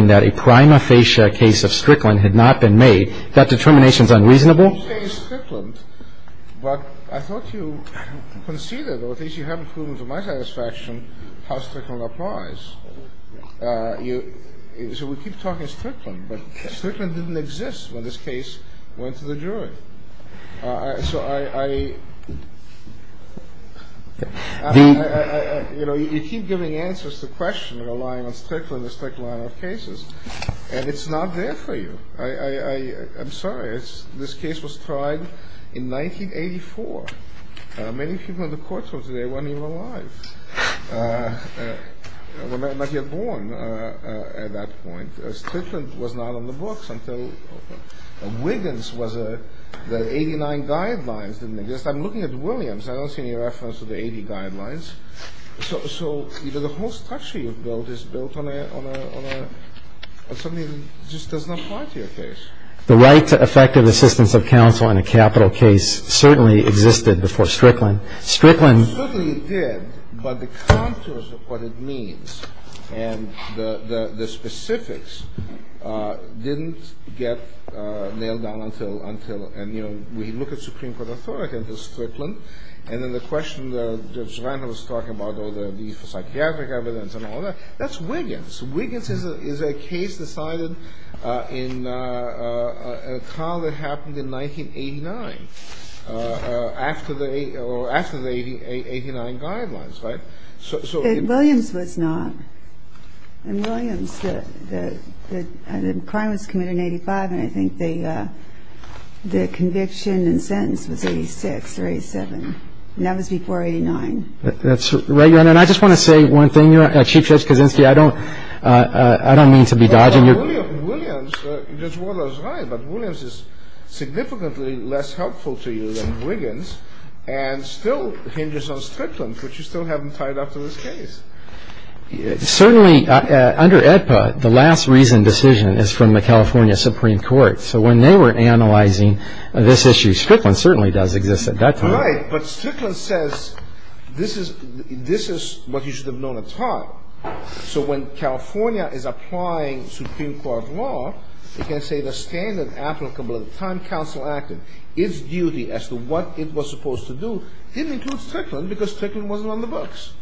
that a prima facie case of strickling had not been made, that determination is unreasonable? You say strickling, but I thought you conceded, or at least you haven't proven to my satisfaction, how strickling applies. So, we keep talking strickling, but strickling didn't exist when this case went to the jury. So, I, you know, you keep giving answers to questions relying on strickling, a strict line of cases, and it's not there for you. I'm sorry, this case was tried in 1984. Many people in the courts today weren't even alive. They might not have been born at that point. Strickling was not on the books until Wiggins was the 89 guidelines. I'm looking at Williams, I don't see any reference to the 89 guidelines. So, the whole structure you've built is built on something that just does not apply to your case. The right to effective assistance of counsel in a capital case certainly existed before strickling. Strickling did, but the contours of what it means and the specifics didn't get nailed down until, and, you know, we look at Supreme Court authority under strickling, and then the question that Joanna was talking about, the psychiatric evidence and all that, that's Wiggins. Wiggins is a case decided in a trial that happened in 1989, after the 89 guidelines, right? Williams was not. And Williams, the crime was committed in 85, and I think the conviction and sentence was 86 or 87. And that was before 89. That's right. And I just want to say one thing, Chief Justice Kavinsky, I don't mean to be dodging your point. Williams is significantly less helpful to you than Wiggins, and still hinges on strickling, which you still haven't tied up to this case. Certainly, under AEDPA, the last reason decision is from the California Supreme Court. So when they were analyzing this issue, strickling certainly does exist at that time. Right, but strickling says this is what you should have known at the time. So when California is applying Supreme Court law, you can say the standard applicable at the time counsel acted, its duty as to what it was supposed to do, didn't include strickling because strickling wasn't on the books.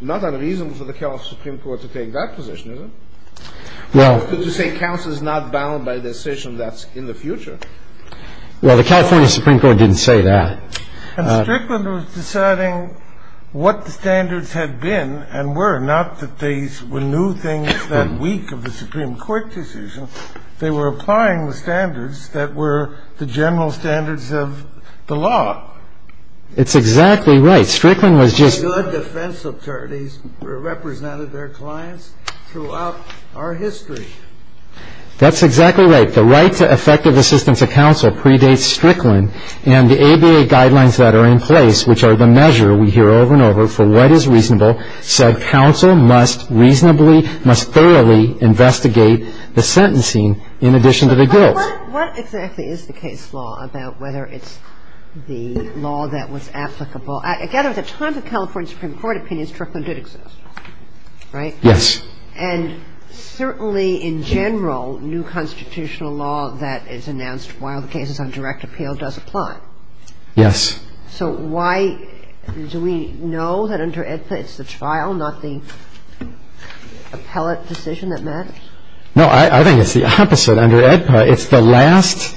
Not unreasonable for the California Supreme Court to take that position, is it? Well. To say counsel is not bound by the decision that's in the future. Well, the California Supreme Court didn't say that. Strickling was deciding what the standards had been and were, not that they knew things that were weak of the Supreme Court decision. They were applying the standards that were the general standards of the law. It's exactly right. Strickling was just... Good defense attorneys represented their clients throughout our history. That's exactly right. The right to effective assistance of counsel predates strickling, and the ABA guidelines that are in place, which are the measure we hear over and over for what is reasonable, said counsel must reasonably, must thoroughly investigate the sentencing in addition to the guilt. But what exactly is the case law about whether it's the law that was applicable? Again, at the time the California Supreme Court opinions, strickling did exist. Right? Yes. And certainly in general, new constitutional law that is announced while the case is on direct appeal does apply. Yes. So why do we know that under AEDPA it's the trial, not the appellate decision that matters? No, I think it's the opposite. Under AEDPA, it's the last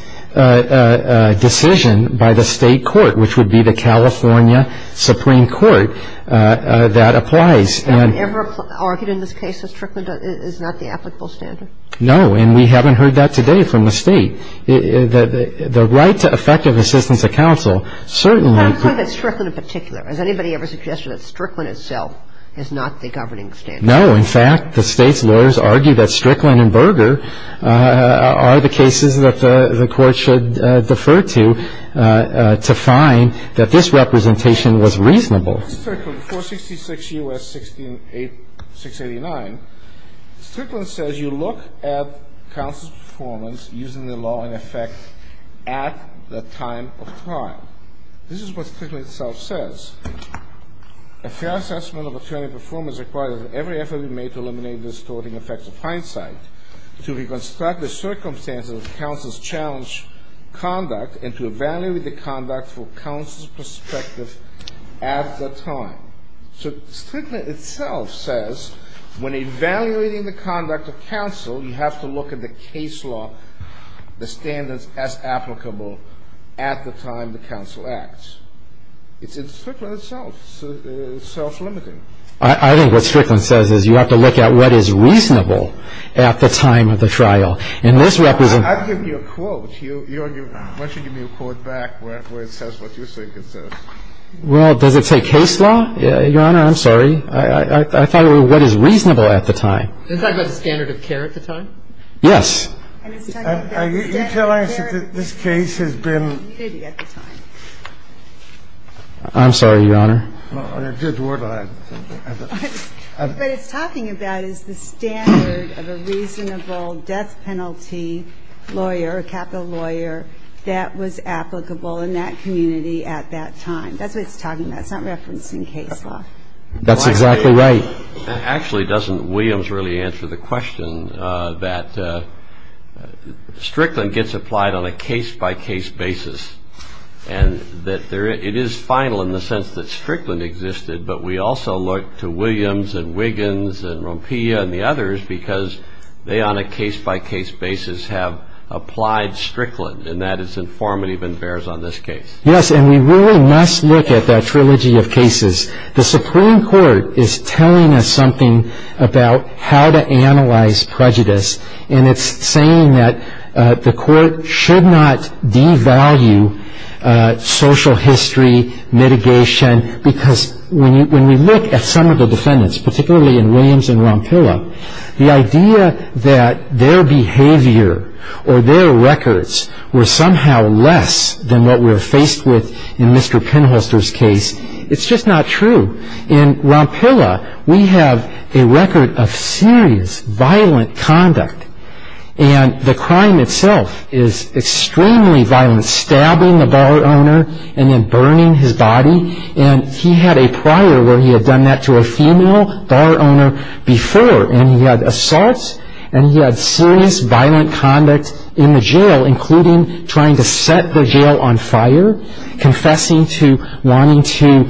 decision by the state court, which would be the California Supreme Court, that applies. Have you ever argued in this case that strickling is not the applicable standard? No, and we haven't heard that today from the state. The right to effective assistance to counsel certainly — I'm talking about strickling in particular. Has anybody ever suggested that strickling itself is not the governing standard? No. In fact, the state lawyers argue that strickling and Berger are the cases that the court should defer to to find that this representation was reasonable. So strickling, 466 U.S. 689, strickling says you look at counsel's performance using the law in effect at the time of trial. This is what strickling itself says. A fair assessment of attorney performance requires that every effort be made to eliminate the distorting effects of hindsight, to reconstruct the circumstances of counsel's challenged conduct, and to evaluate the conduct from counsel's perspective at the time. So strickling itself says when evaluating the conduct of counsel, you have to look at the case law, the standards as applicable at the time the counsel acts. It's strickling itself. It's self-limiting. I think what strickling says is you have to look at what is reasonable at the time of the trial. And this represents — I've given you a quote. Why don't you give me a quote back where it says what you think it says? Well, does it say case law? Your Honor, I'm sorry. I thought it was what is reasonable at the time. Does that go to standard of care at the time? Yes. Are you telling us that this case has been — Maybe at the time. I'm sorry, Your Honor. But it's talking about is the standard of a reasonable death penalty lawyer, capital lawyer, that was applicable in that community at that time. That's what it's talking about. It's not referencing case law. That's exactly right. Actually, doesn't Williams really answer the question that strickling gets applied on a case-by-case basis, and that it is final in the sense that strickling existed, but we also look to Williams and Wiggins and Rompilla and the others because they on a case-by-case basis have applied strickling, and that is informative and bears on this case. Yes, and we really must look at that trilogy of cases. The Supreme Court is telling us something about how to analyze prejudice, and it's saying that the court should not devalue social history mitigation because when we look at some of the defendants, particularly in Williams and Rompilla, the idea that their behavior or their records were somehow less than what we're faced with in Mr. Penholster's case, it's just not true. In Rompilla, we have a record of serious violent conduct, and the crime itself is extremely violent, stabbing the bar owner and then burning his body, and he had a prior where he had done that to a female bar owner before, and he had assaults and he had serious violent conduct in the jail, including trying to set the jail on fire, confessing to wanting to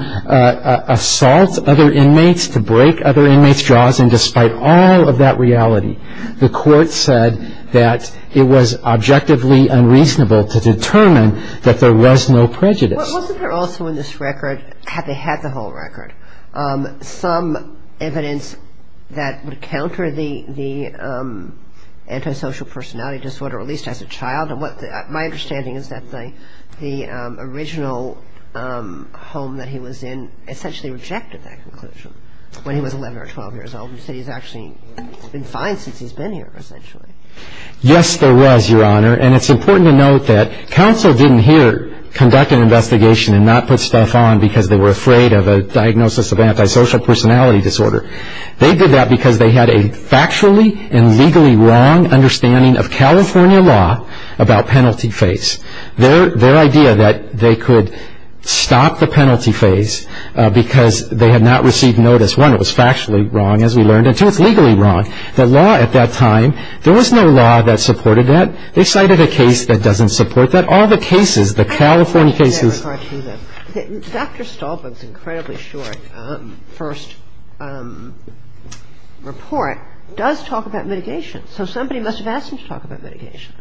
assault other inmates, to break other inmates' jaws, and despite all of that reality, the court said that it was objectively unreasonable to determine that there was no prejudice. Wasn't there also in this record, had they had the whole record, some evidence that would counter the antisocial personality disorder at least as a child? My understanding is that the original home that he was in essentially rejected that conclusion when he was 11 or 12 years old. He said he's actually been fine since he's been here, essentially. Yes, there was, Your Honor, and it's important to note that the counsel didn't here conduct an investigation and not put stuff on because they were afraid of a diagnosis of antisocial personality disorder. They did that because they had a factually and legally wrong understanding of California law about penalty phase. Their idea that they could stop the penalty phase because they had not received notice, one, it was factually wrong as we learned, and two, it's legally wrong. The law at that time, there was no law that supported that. They cited a case that doesn't support that. All the cases, the California cases... Dr. Stolberg's incredibly short first report does talk about mitigation, so somebody must have asked him to talk about mitigation.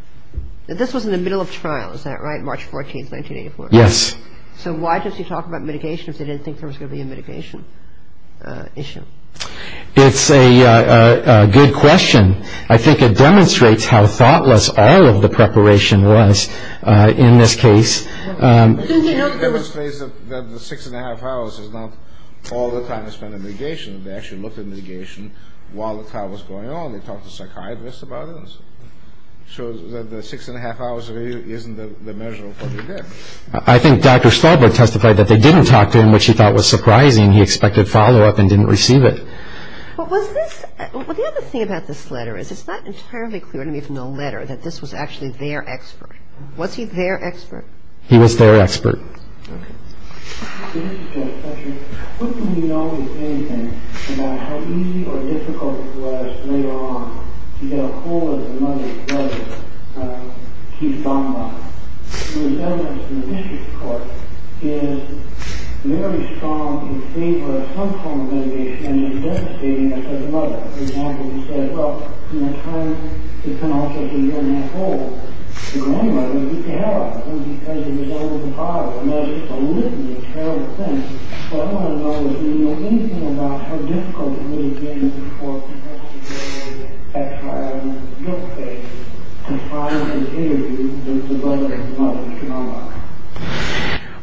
This was in the middle of trial, is that right, March 14, 1984? Yes. So why does he talk about mitigation if he didn't think there was going to be a mitigation issue? It's a good question. I think it demonstrates how thoughtless all of the preparation was in this case. It demonstrates that the six-and-a-half hours is not all the time they spent in mitigation. They actually looked at mitigation while the trial was going on. They talked to psychiatrists about it. So the six-and-a-half hours really isn't the measure of what they did. I think Dr. Stolberg testified that they didn't talk to him, which he thought was surprising. He expected follow-up and didn't receive it. The other thing about this letter is it's apparently clear to me from the letter that this was actually their expert. Was he their expert? He was their expert. This is just a question. What do we know at any time about how easy or difficult it was later on to get a hold of a mother who doesn't keep bomb bombs? The evidence in the district court is very strong in favor of some form of mitigation, and it's devastating if there's another. For example, you said, well, in return, it can also be in that hold. In any way, it can help. It depends on the result of the trial. It's not just a litany of terrible things. What I want to know is do you know anything about how difficult it really is for psychiatrists, at trial, in your case, to try and mitigate a mother who doesn't keep bomb bombs?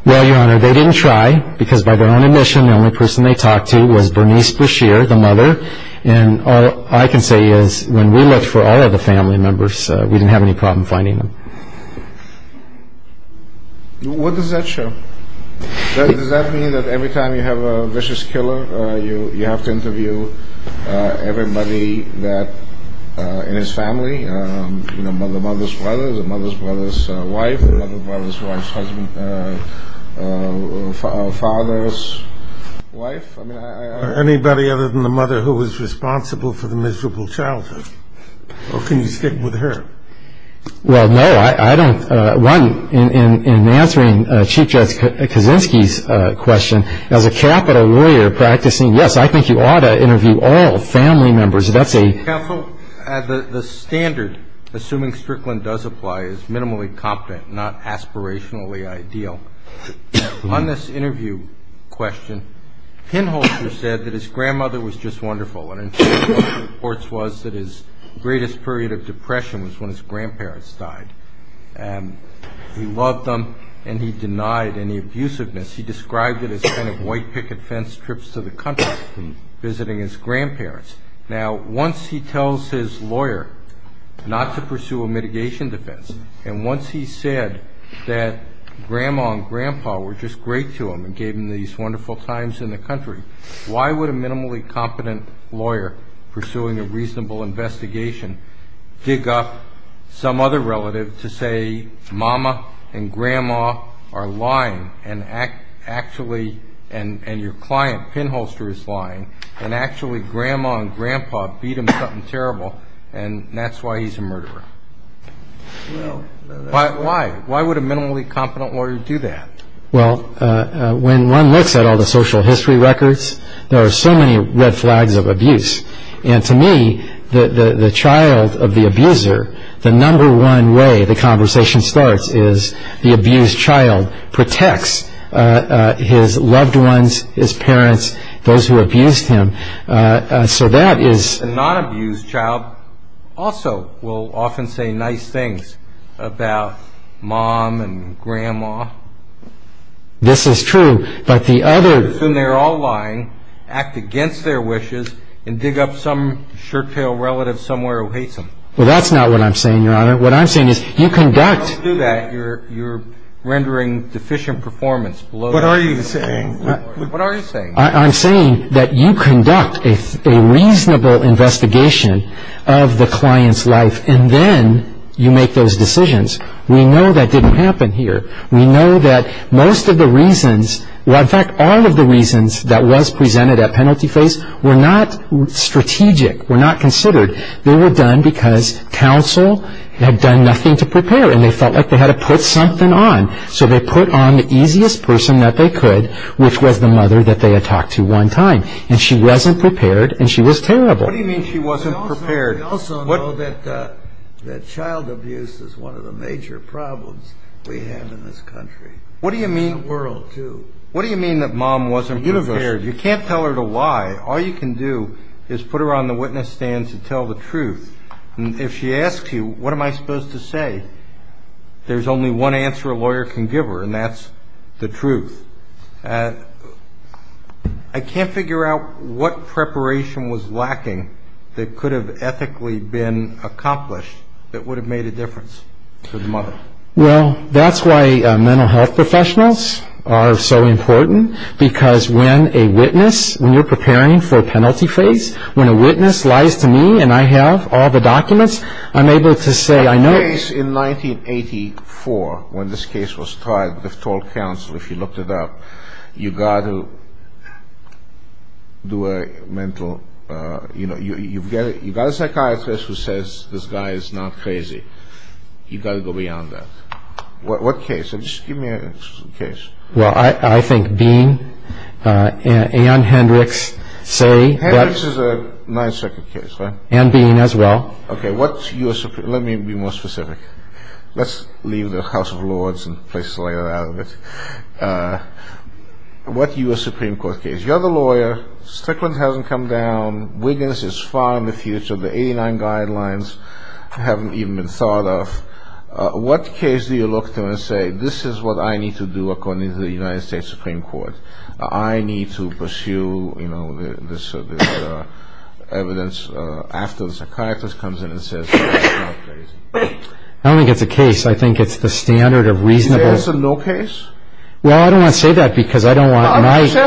Well, Your Honor, they didn't try because by their own admission, the only person they talked to was Bernice Beshear, the mother. And all I can say is when we looked for all of the family members, we didn't have any problem finding them. What does that show? Does that mean that every time you have a vicious killer, you have to interview everybody in his family, the mother's brother, the mother's brother's wife, the mother's wife's husband, father's wife? Or anybody other than the mother who was responsible for the miserable childhood? Or can you stick with her? Well, no, I don't. One, in answering Chief Judge Kaczynski's question, as a capital lawyer practicing, yes, I think you ought to interview all family members and update. Counsel, the standard, assuming Strickland does apply, is minimally competent, not aspirationally ideal. On this interview question, Pinholeser said that his grandmother was just wonderful. And in fact, one of the reports was that his greatest period of depression was when his grandparents died. And he loved them, and he denied any abusiveness. He described it as kind of white picket fence trips to the country, visiting his grandparents. Now, once he tells his lawyer not to pursue a mitigation defense, and once he said that grandma and grandpa were just great to him and gave him these wonderful times in the country, why would a minimally competent lawyer pursuing a reasonable investigation dig up some other relative to say mama and grandma are lying, and your client, Pinholeser, is lying, and actually grandma and grandpa beat him to something terrible, and that's why he's a murderer? Why? Why would a minimally competent lawyer do that? Well, when one looks at all the social history records, there are so many red flags of abuse. And to me, the child of the abuser, the number one way the conversation starts is the abused child protects his loved ones, his parents, those who abused him. So that is... A non-abused child also will often say nice things about mom and grandma. This is true, but the other... Then they're all lying, act against their wishes, and dig up some shirt-tail relative somewhere who hates them. Well, that's not what I'm saying, Your Honor. What I'm saying is you conduct... When you do that, you're rendering deficient performance. What are you saying? What are you saying? I'm saying that you conduct a reasonable investigation of the client's life, and then you make those decisions. We know that didn't happen here. We know that most of the reasons, in fact, all of the reasons that was presented at penalty phase were not strategic, were not considered. They were done because counsel had done nothing to prepare, and they felt like they had to put something on. So they put on the easiest person that they could, which was the mother that they had talked to one time. And she wasn't prepared, and she was terrible. What do you mean she wasn't prepared? We also know that child abuse is one of the major problems we have in this country. What do you mean... The world, too. What do you mean that mom wasn't prepared? You can't tell her the why. All you can do is put her on the witness stand to tell the truth. If she asks you, what am I supposed to say? There's only one answer a lawyer can give her, and that's the truth. I can't figure out what preparation was lacking that could have ethically been accomplished that would have made a difference to the mother. Well, that's why mental health professionals are so important, because when a witness, when you're preparing for a penalty phase, when a witness lies to me and I have all the documents, I'm able to say I know... In 1984, when this case was tried, they told counsel, if you looked it up, you've got to do a mental... You've got a psychiatrist who says this guy is not crazy. You've got to go beyond that. What case? Just give me a case. Well, I think Dean and Hendricks say... Hendricks is a 9-second case, right? And Dean as well. Okay, let me be more specific. Let's leave the House of Lords and play Slayer out of it. What U.S. Supreme Court case? You're the lawyer. Strickland hasn't come down. Wiggins is far in the future. The 89 guidelines haven't even been thought of. What case do you look to and say, this is what I need to do according to the United States Supreme Court? I need to pursue this evidence after the psychiatrist comes in and says he's not crazy. I don't think it's a case. I think it's the standard of reasonable... You answer no case? Well, I don't want to say that because I don't want to...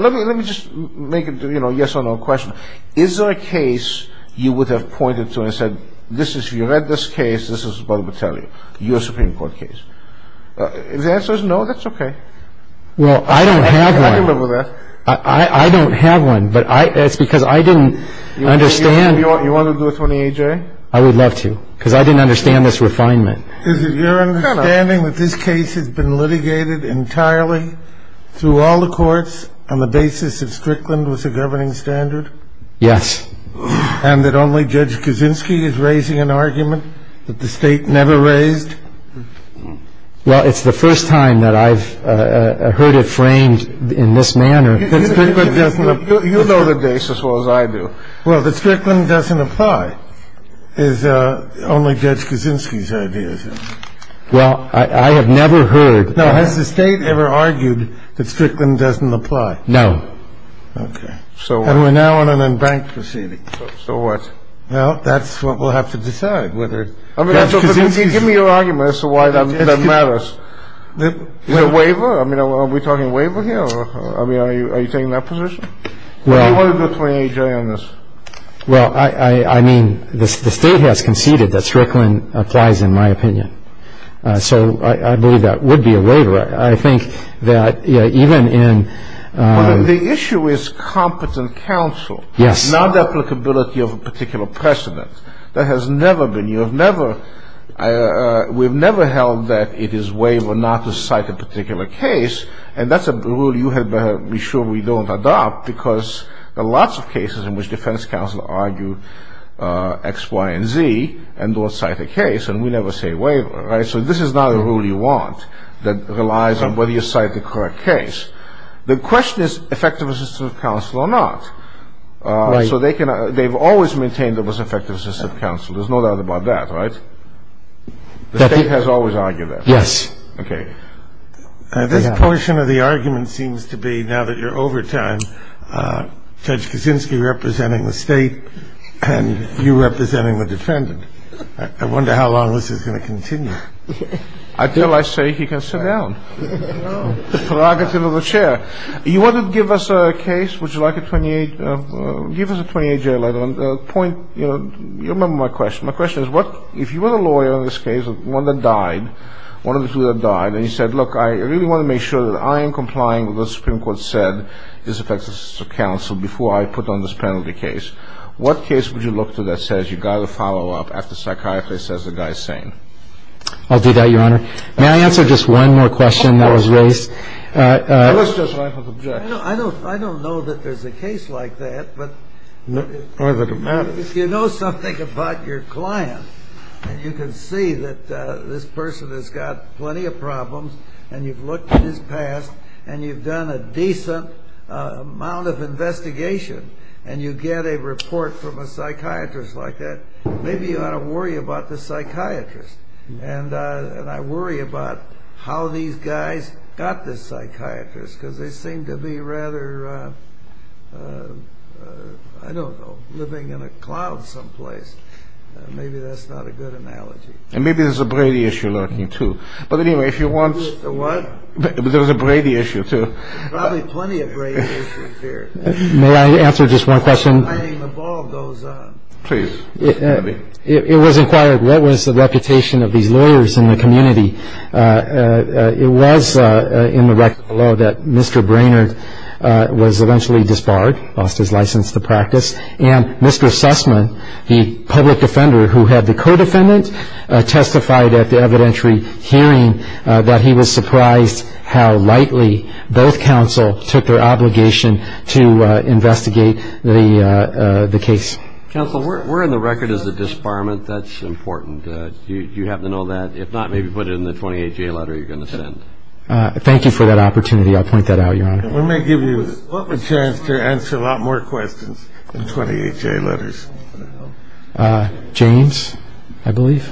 Let me just make a yes or no question. Is there a case you would have pointed to and said, you read this case, this is what I'm going to tell you. U.S. Supreme Court case. If the answer is no, that's okay. Well, I don't have one. I can live with that. I don't have one, but that's because I didn't understand... You want to do this on the A.J.? I would love to, because I didn't understand this refinement. Is it your understanding that this case has been litigated entirely through all the courts on the basis that Strickland was the governing standard? Yes. And that only Judge Kuczynski is raising an argument that the state never raised? Well, it's the first time that I've heard it framed in this manner. You know the case as well as I do. Well, that Strickland doesn't apply is only Judge Kuczynski's idea. Well, I have never heard... Has the state ever argued that Strickland doesn't apply? No. Okay. And we're now in an embankment proceeding. So what? Well, that's what we'll have to decide. Give me your argument as to why that matters. You have a waiver? I mean, are we talking waiver here? I mean, are you taking that position? What do you want to do between A.J. and this? Well, I mean, the state has conceded that Strickland applies in my opinion. So I believe that would be a waiver. I think that even in... The issue is competent counsel. Yes. Non-applicability of a particular precedent. That has never been. You have never... We've never held that it is waiver not to cite a particular case, and that's a rule you had better be sure we don't adopt because there are lots of cases in which defense counsel argue X, Y, and Z, and don't cite a case, and we never say waiver. So this is not a rule you want that relies on whether you cite the correct case. The question is effective assistance of counsel or not. So they've always maintained there was effective assistance of counsel. There's no doubt about that, right? The state has always argued that. Yes. Okay. This portion of the argument seems to be now that you're over time, Judge Kuczynski representing the state and you representing the defendant. I wonder how long this is going to continue. Until I say he can sit down. The prerogative of the chair. You want to give us a case? Would you like a 28? Give us a 28-year letter. You remember my question. My question is if you were a lawyer in this case, one that died, one of the two that died, and you said, look, I really want to make sure that I am complying with what the Supreme Court said is effective assistance of counsel before I put on this penalty case, what case would you look to that says you've got to follow up after the psychiatrist says the guy is sane? I'll do that, Your Honor. May I answer just one more question that was raised? I don't know that there's a case like that, but if you know something about your client and you can see that this person has got plenty of problems and you've looked at his past and you've done a decent amount of investigation and you get a report from a psychiatrist like that, maybe you ought to worry about the psychiatrist. And I worry about how these guys got the psychiatrist, because they seem to be rather, I don't know, living in a cloud someplace. Maybe that's not a good analogy. And maybe there's a Brady issue, too. But anyway, if you want to... What? There was a Brady issue, too. There's probably plenty of Brady issues here. May I answer just one question? I'm fighting the ball of those. Please. It was inquired what was the reputation of these lawyers in the community. It was in the record of the law that Mr. Brainard was eventually disbarred, lost his license to practice, and Mr. Sussman, the public defender who had the co-defendant, testified at the evidentiary hearing that he was surprised how lightly both counsel took their obligation to investigate the case. Counsel, we're in the record as a disbarment. That's important. You have to know that. If not, maybe put it in the 28-J letter you're going to send. Thank you for that opportunity. I'll point that out, Your Honor. Let me give you a chance to answer a lot more questions than 28-J letters. James, I believe.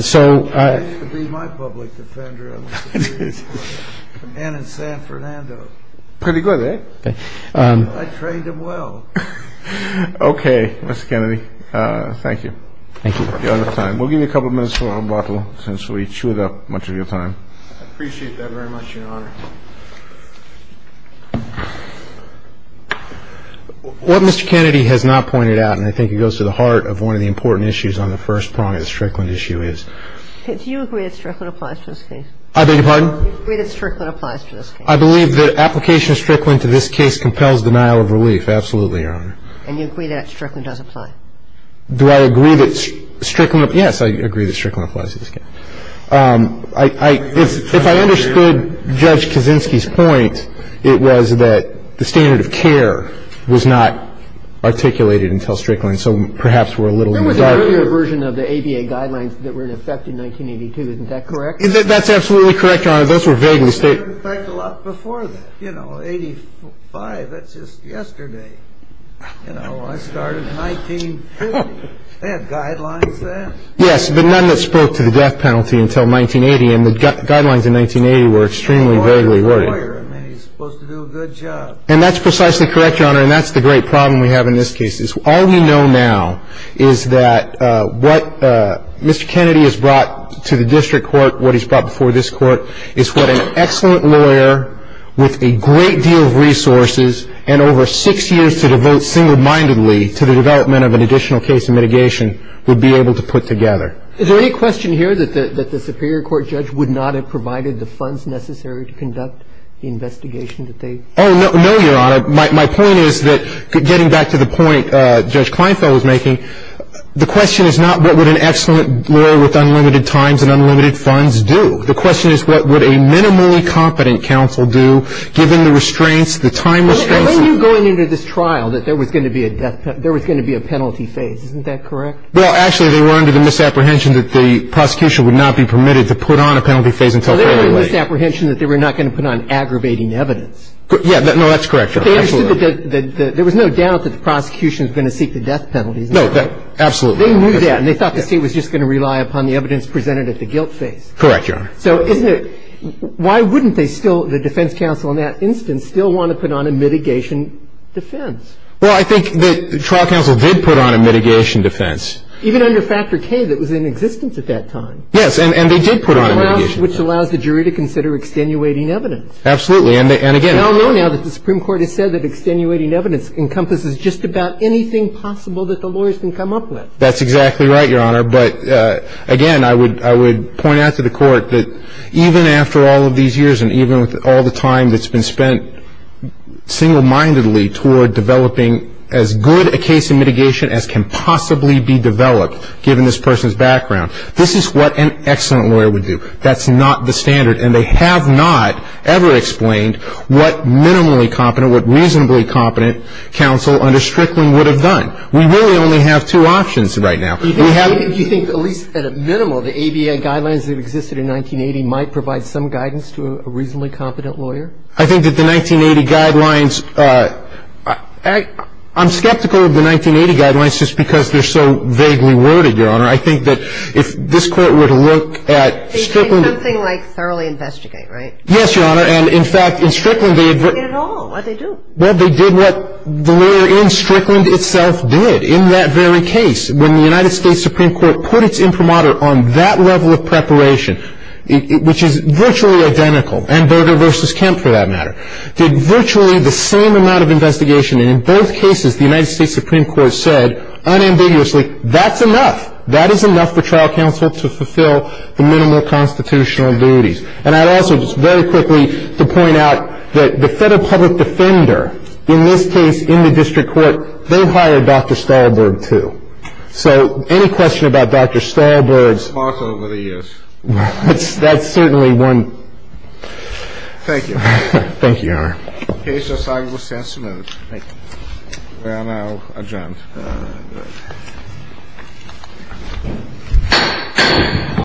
So... He used to be my public defender. A man in San Fernando. Pretty good, eh? I trained him well. Okay, Mr. Kennedy. Thank you. Thank you. We'll give you a couple minutes for rebuttal since we chewed up much of your time. I appreciate that very much, Your Honor. What Mr. Kennedy has not pointed out, and I think it goes to the heart of one of the important issues on the first prong of the Strickland issue, is... Do you agree that Strickland applies to this case? I beg your pardon? Do you agree that Strickland applies to this case? I believe that application of Strickland to this case compels denial of relief. Absolutely, Your Honor. And you agree that Strickland does apply? Do I agree that Strickland... Yes, I agree that Strickland applies to this case. If I understood Judge Kaczynski's point, it was that the standard of care was not articulated until Strickland, so perhaps we're a little... That was the earlier version of the ABA guidelines that were in effect in 1982. Isn't that correct? That's absolutely correct, Your Honor. Your Honor, those were vague mistakes. They were in effect a lot before that. You know, 1985, that's just yesterday. You know, I started in 1950. They have guidelines then? Yes, but none that spoke to the death penalty until 1980, and the guidelines in 1980 were extremely, very, very vague. And he was supposed to do a good job. And that's precisely correct, Your Honor, and that's the great problem we have in this case. All we know now is that what Mr. Kennedy has brought to the district court, what he's brought before this court, is what an excellent lawyer with a great deal of resources and over six years to devote single-mindedly to the development of an additional case of mitigation would be able to put together. Is there any question here that the Superior Court judge would not have provided the funds necessary to conduct the investigation that they... Oh, no, Your Honor. My point is that getting back to the point Judge Kleinfeld was making, the question is not what would an excellent lawyer with unlimited times and unlimited funds do. The question is what would a minimally competent counsel do given the restraints, the time... When you're going into this trial that there was going to be a death penalty, there was going to be a penalty phase. Isn't that correct? Well, actually, they were under the misapprehension that the prosecution would not be permitted to put on a penalty phase until... There was a misapprehension that they were not going to put on aggravating evidence. Yeah, no, that's correct, Your Honor. There was no doubt that the prosecution was going to seek the death penalty. No, absolutely. They knew that, and they thought that they were just going to rely upon the evidence presented at the guilt phase. Correct, Your Honor. So why wouldn't the defense counsel in that instance still want to put on a mitigation defense? Well, I think the trial counsel did put on a mitigation defense. Even under Factor K that was in existence at that time. Yes, and they did put on a mitigation defense. Which allows the jury to consider extenuating evidence. Absolutely, and again... We all know now that the Supreme Court has said that extenuating evidence encompasses just about anything possible that the lawyers can come up with. That's exactly right, Your Honor, but again, I would point out to the court that even after all of these years and even with all the time that's been spent single-mindedly toward developing as good a case of mitigation as can possibly be developed, given this person's background, this is what an excellent lawyer would do. That's not the standard, and they have not ever explained what minimally competent, what reasonably competent counsel under Strickland would have done. We really only have two options right now. Do you think at least at a minimal the ADA guidelines that existed in 1980 might provide some guidance to a reasonably competent lawyer? I think that the 1980 guidelines... I'm skeptical of the 1980 guidelines just because they're so vaguely worded, Your Honor. I think that if this court were to look at Strickland... Something like thoroughly investigate, right? Yes, Your Honor, and in fact, in Strickland... Well, they did what the lawyer in Strickland itself did in that very case. When the United States Supreme Court put its imprimatur on that level of preparation, which is virtually identical, and Burger v. Kemp, for that matter, did virtually the same amount of investigation. And in both cases, the United States Supreme Court said unambiguously, that's enough, that is enough for trial counsel to fulfill the minimal constitutional duties. And I'd also just very quickly point out that the federal public defender, in this case, in the district court, they hired Dr. Stalberg, too. So, any question about Dr. Stalberg? Also that he is. That's certainly one... Thank you. Thank you, Your Honor. The case is signed with testimony. Thank you. We are now adjourned.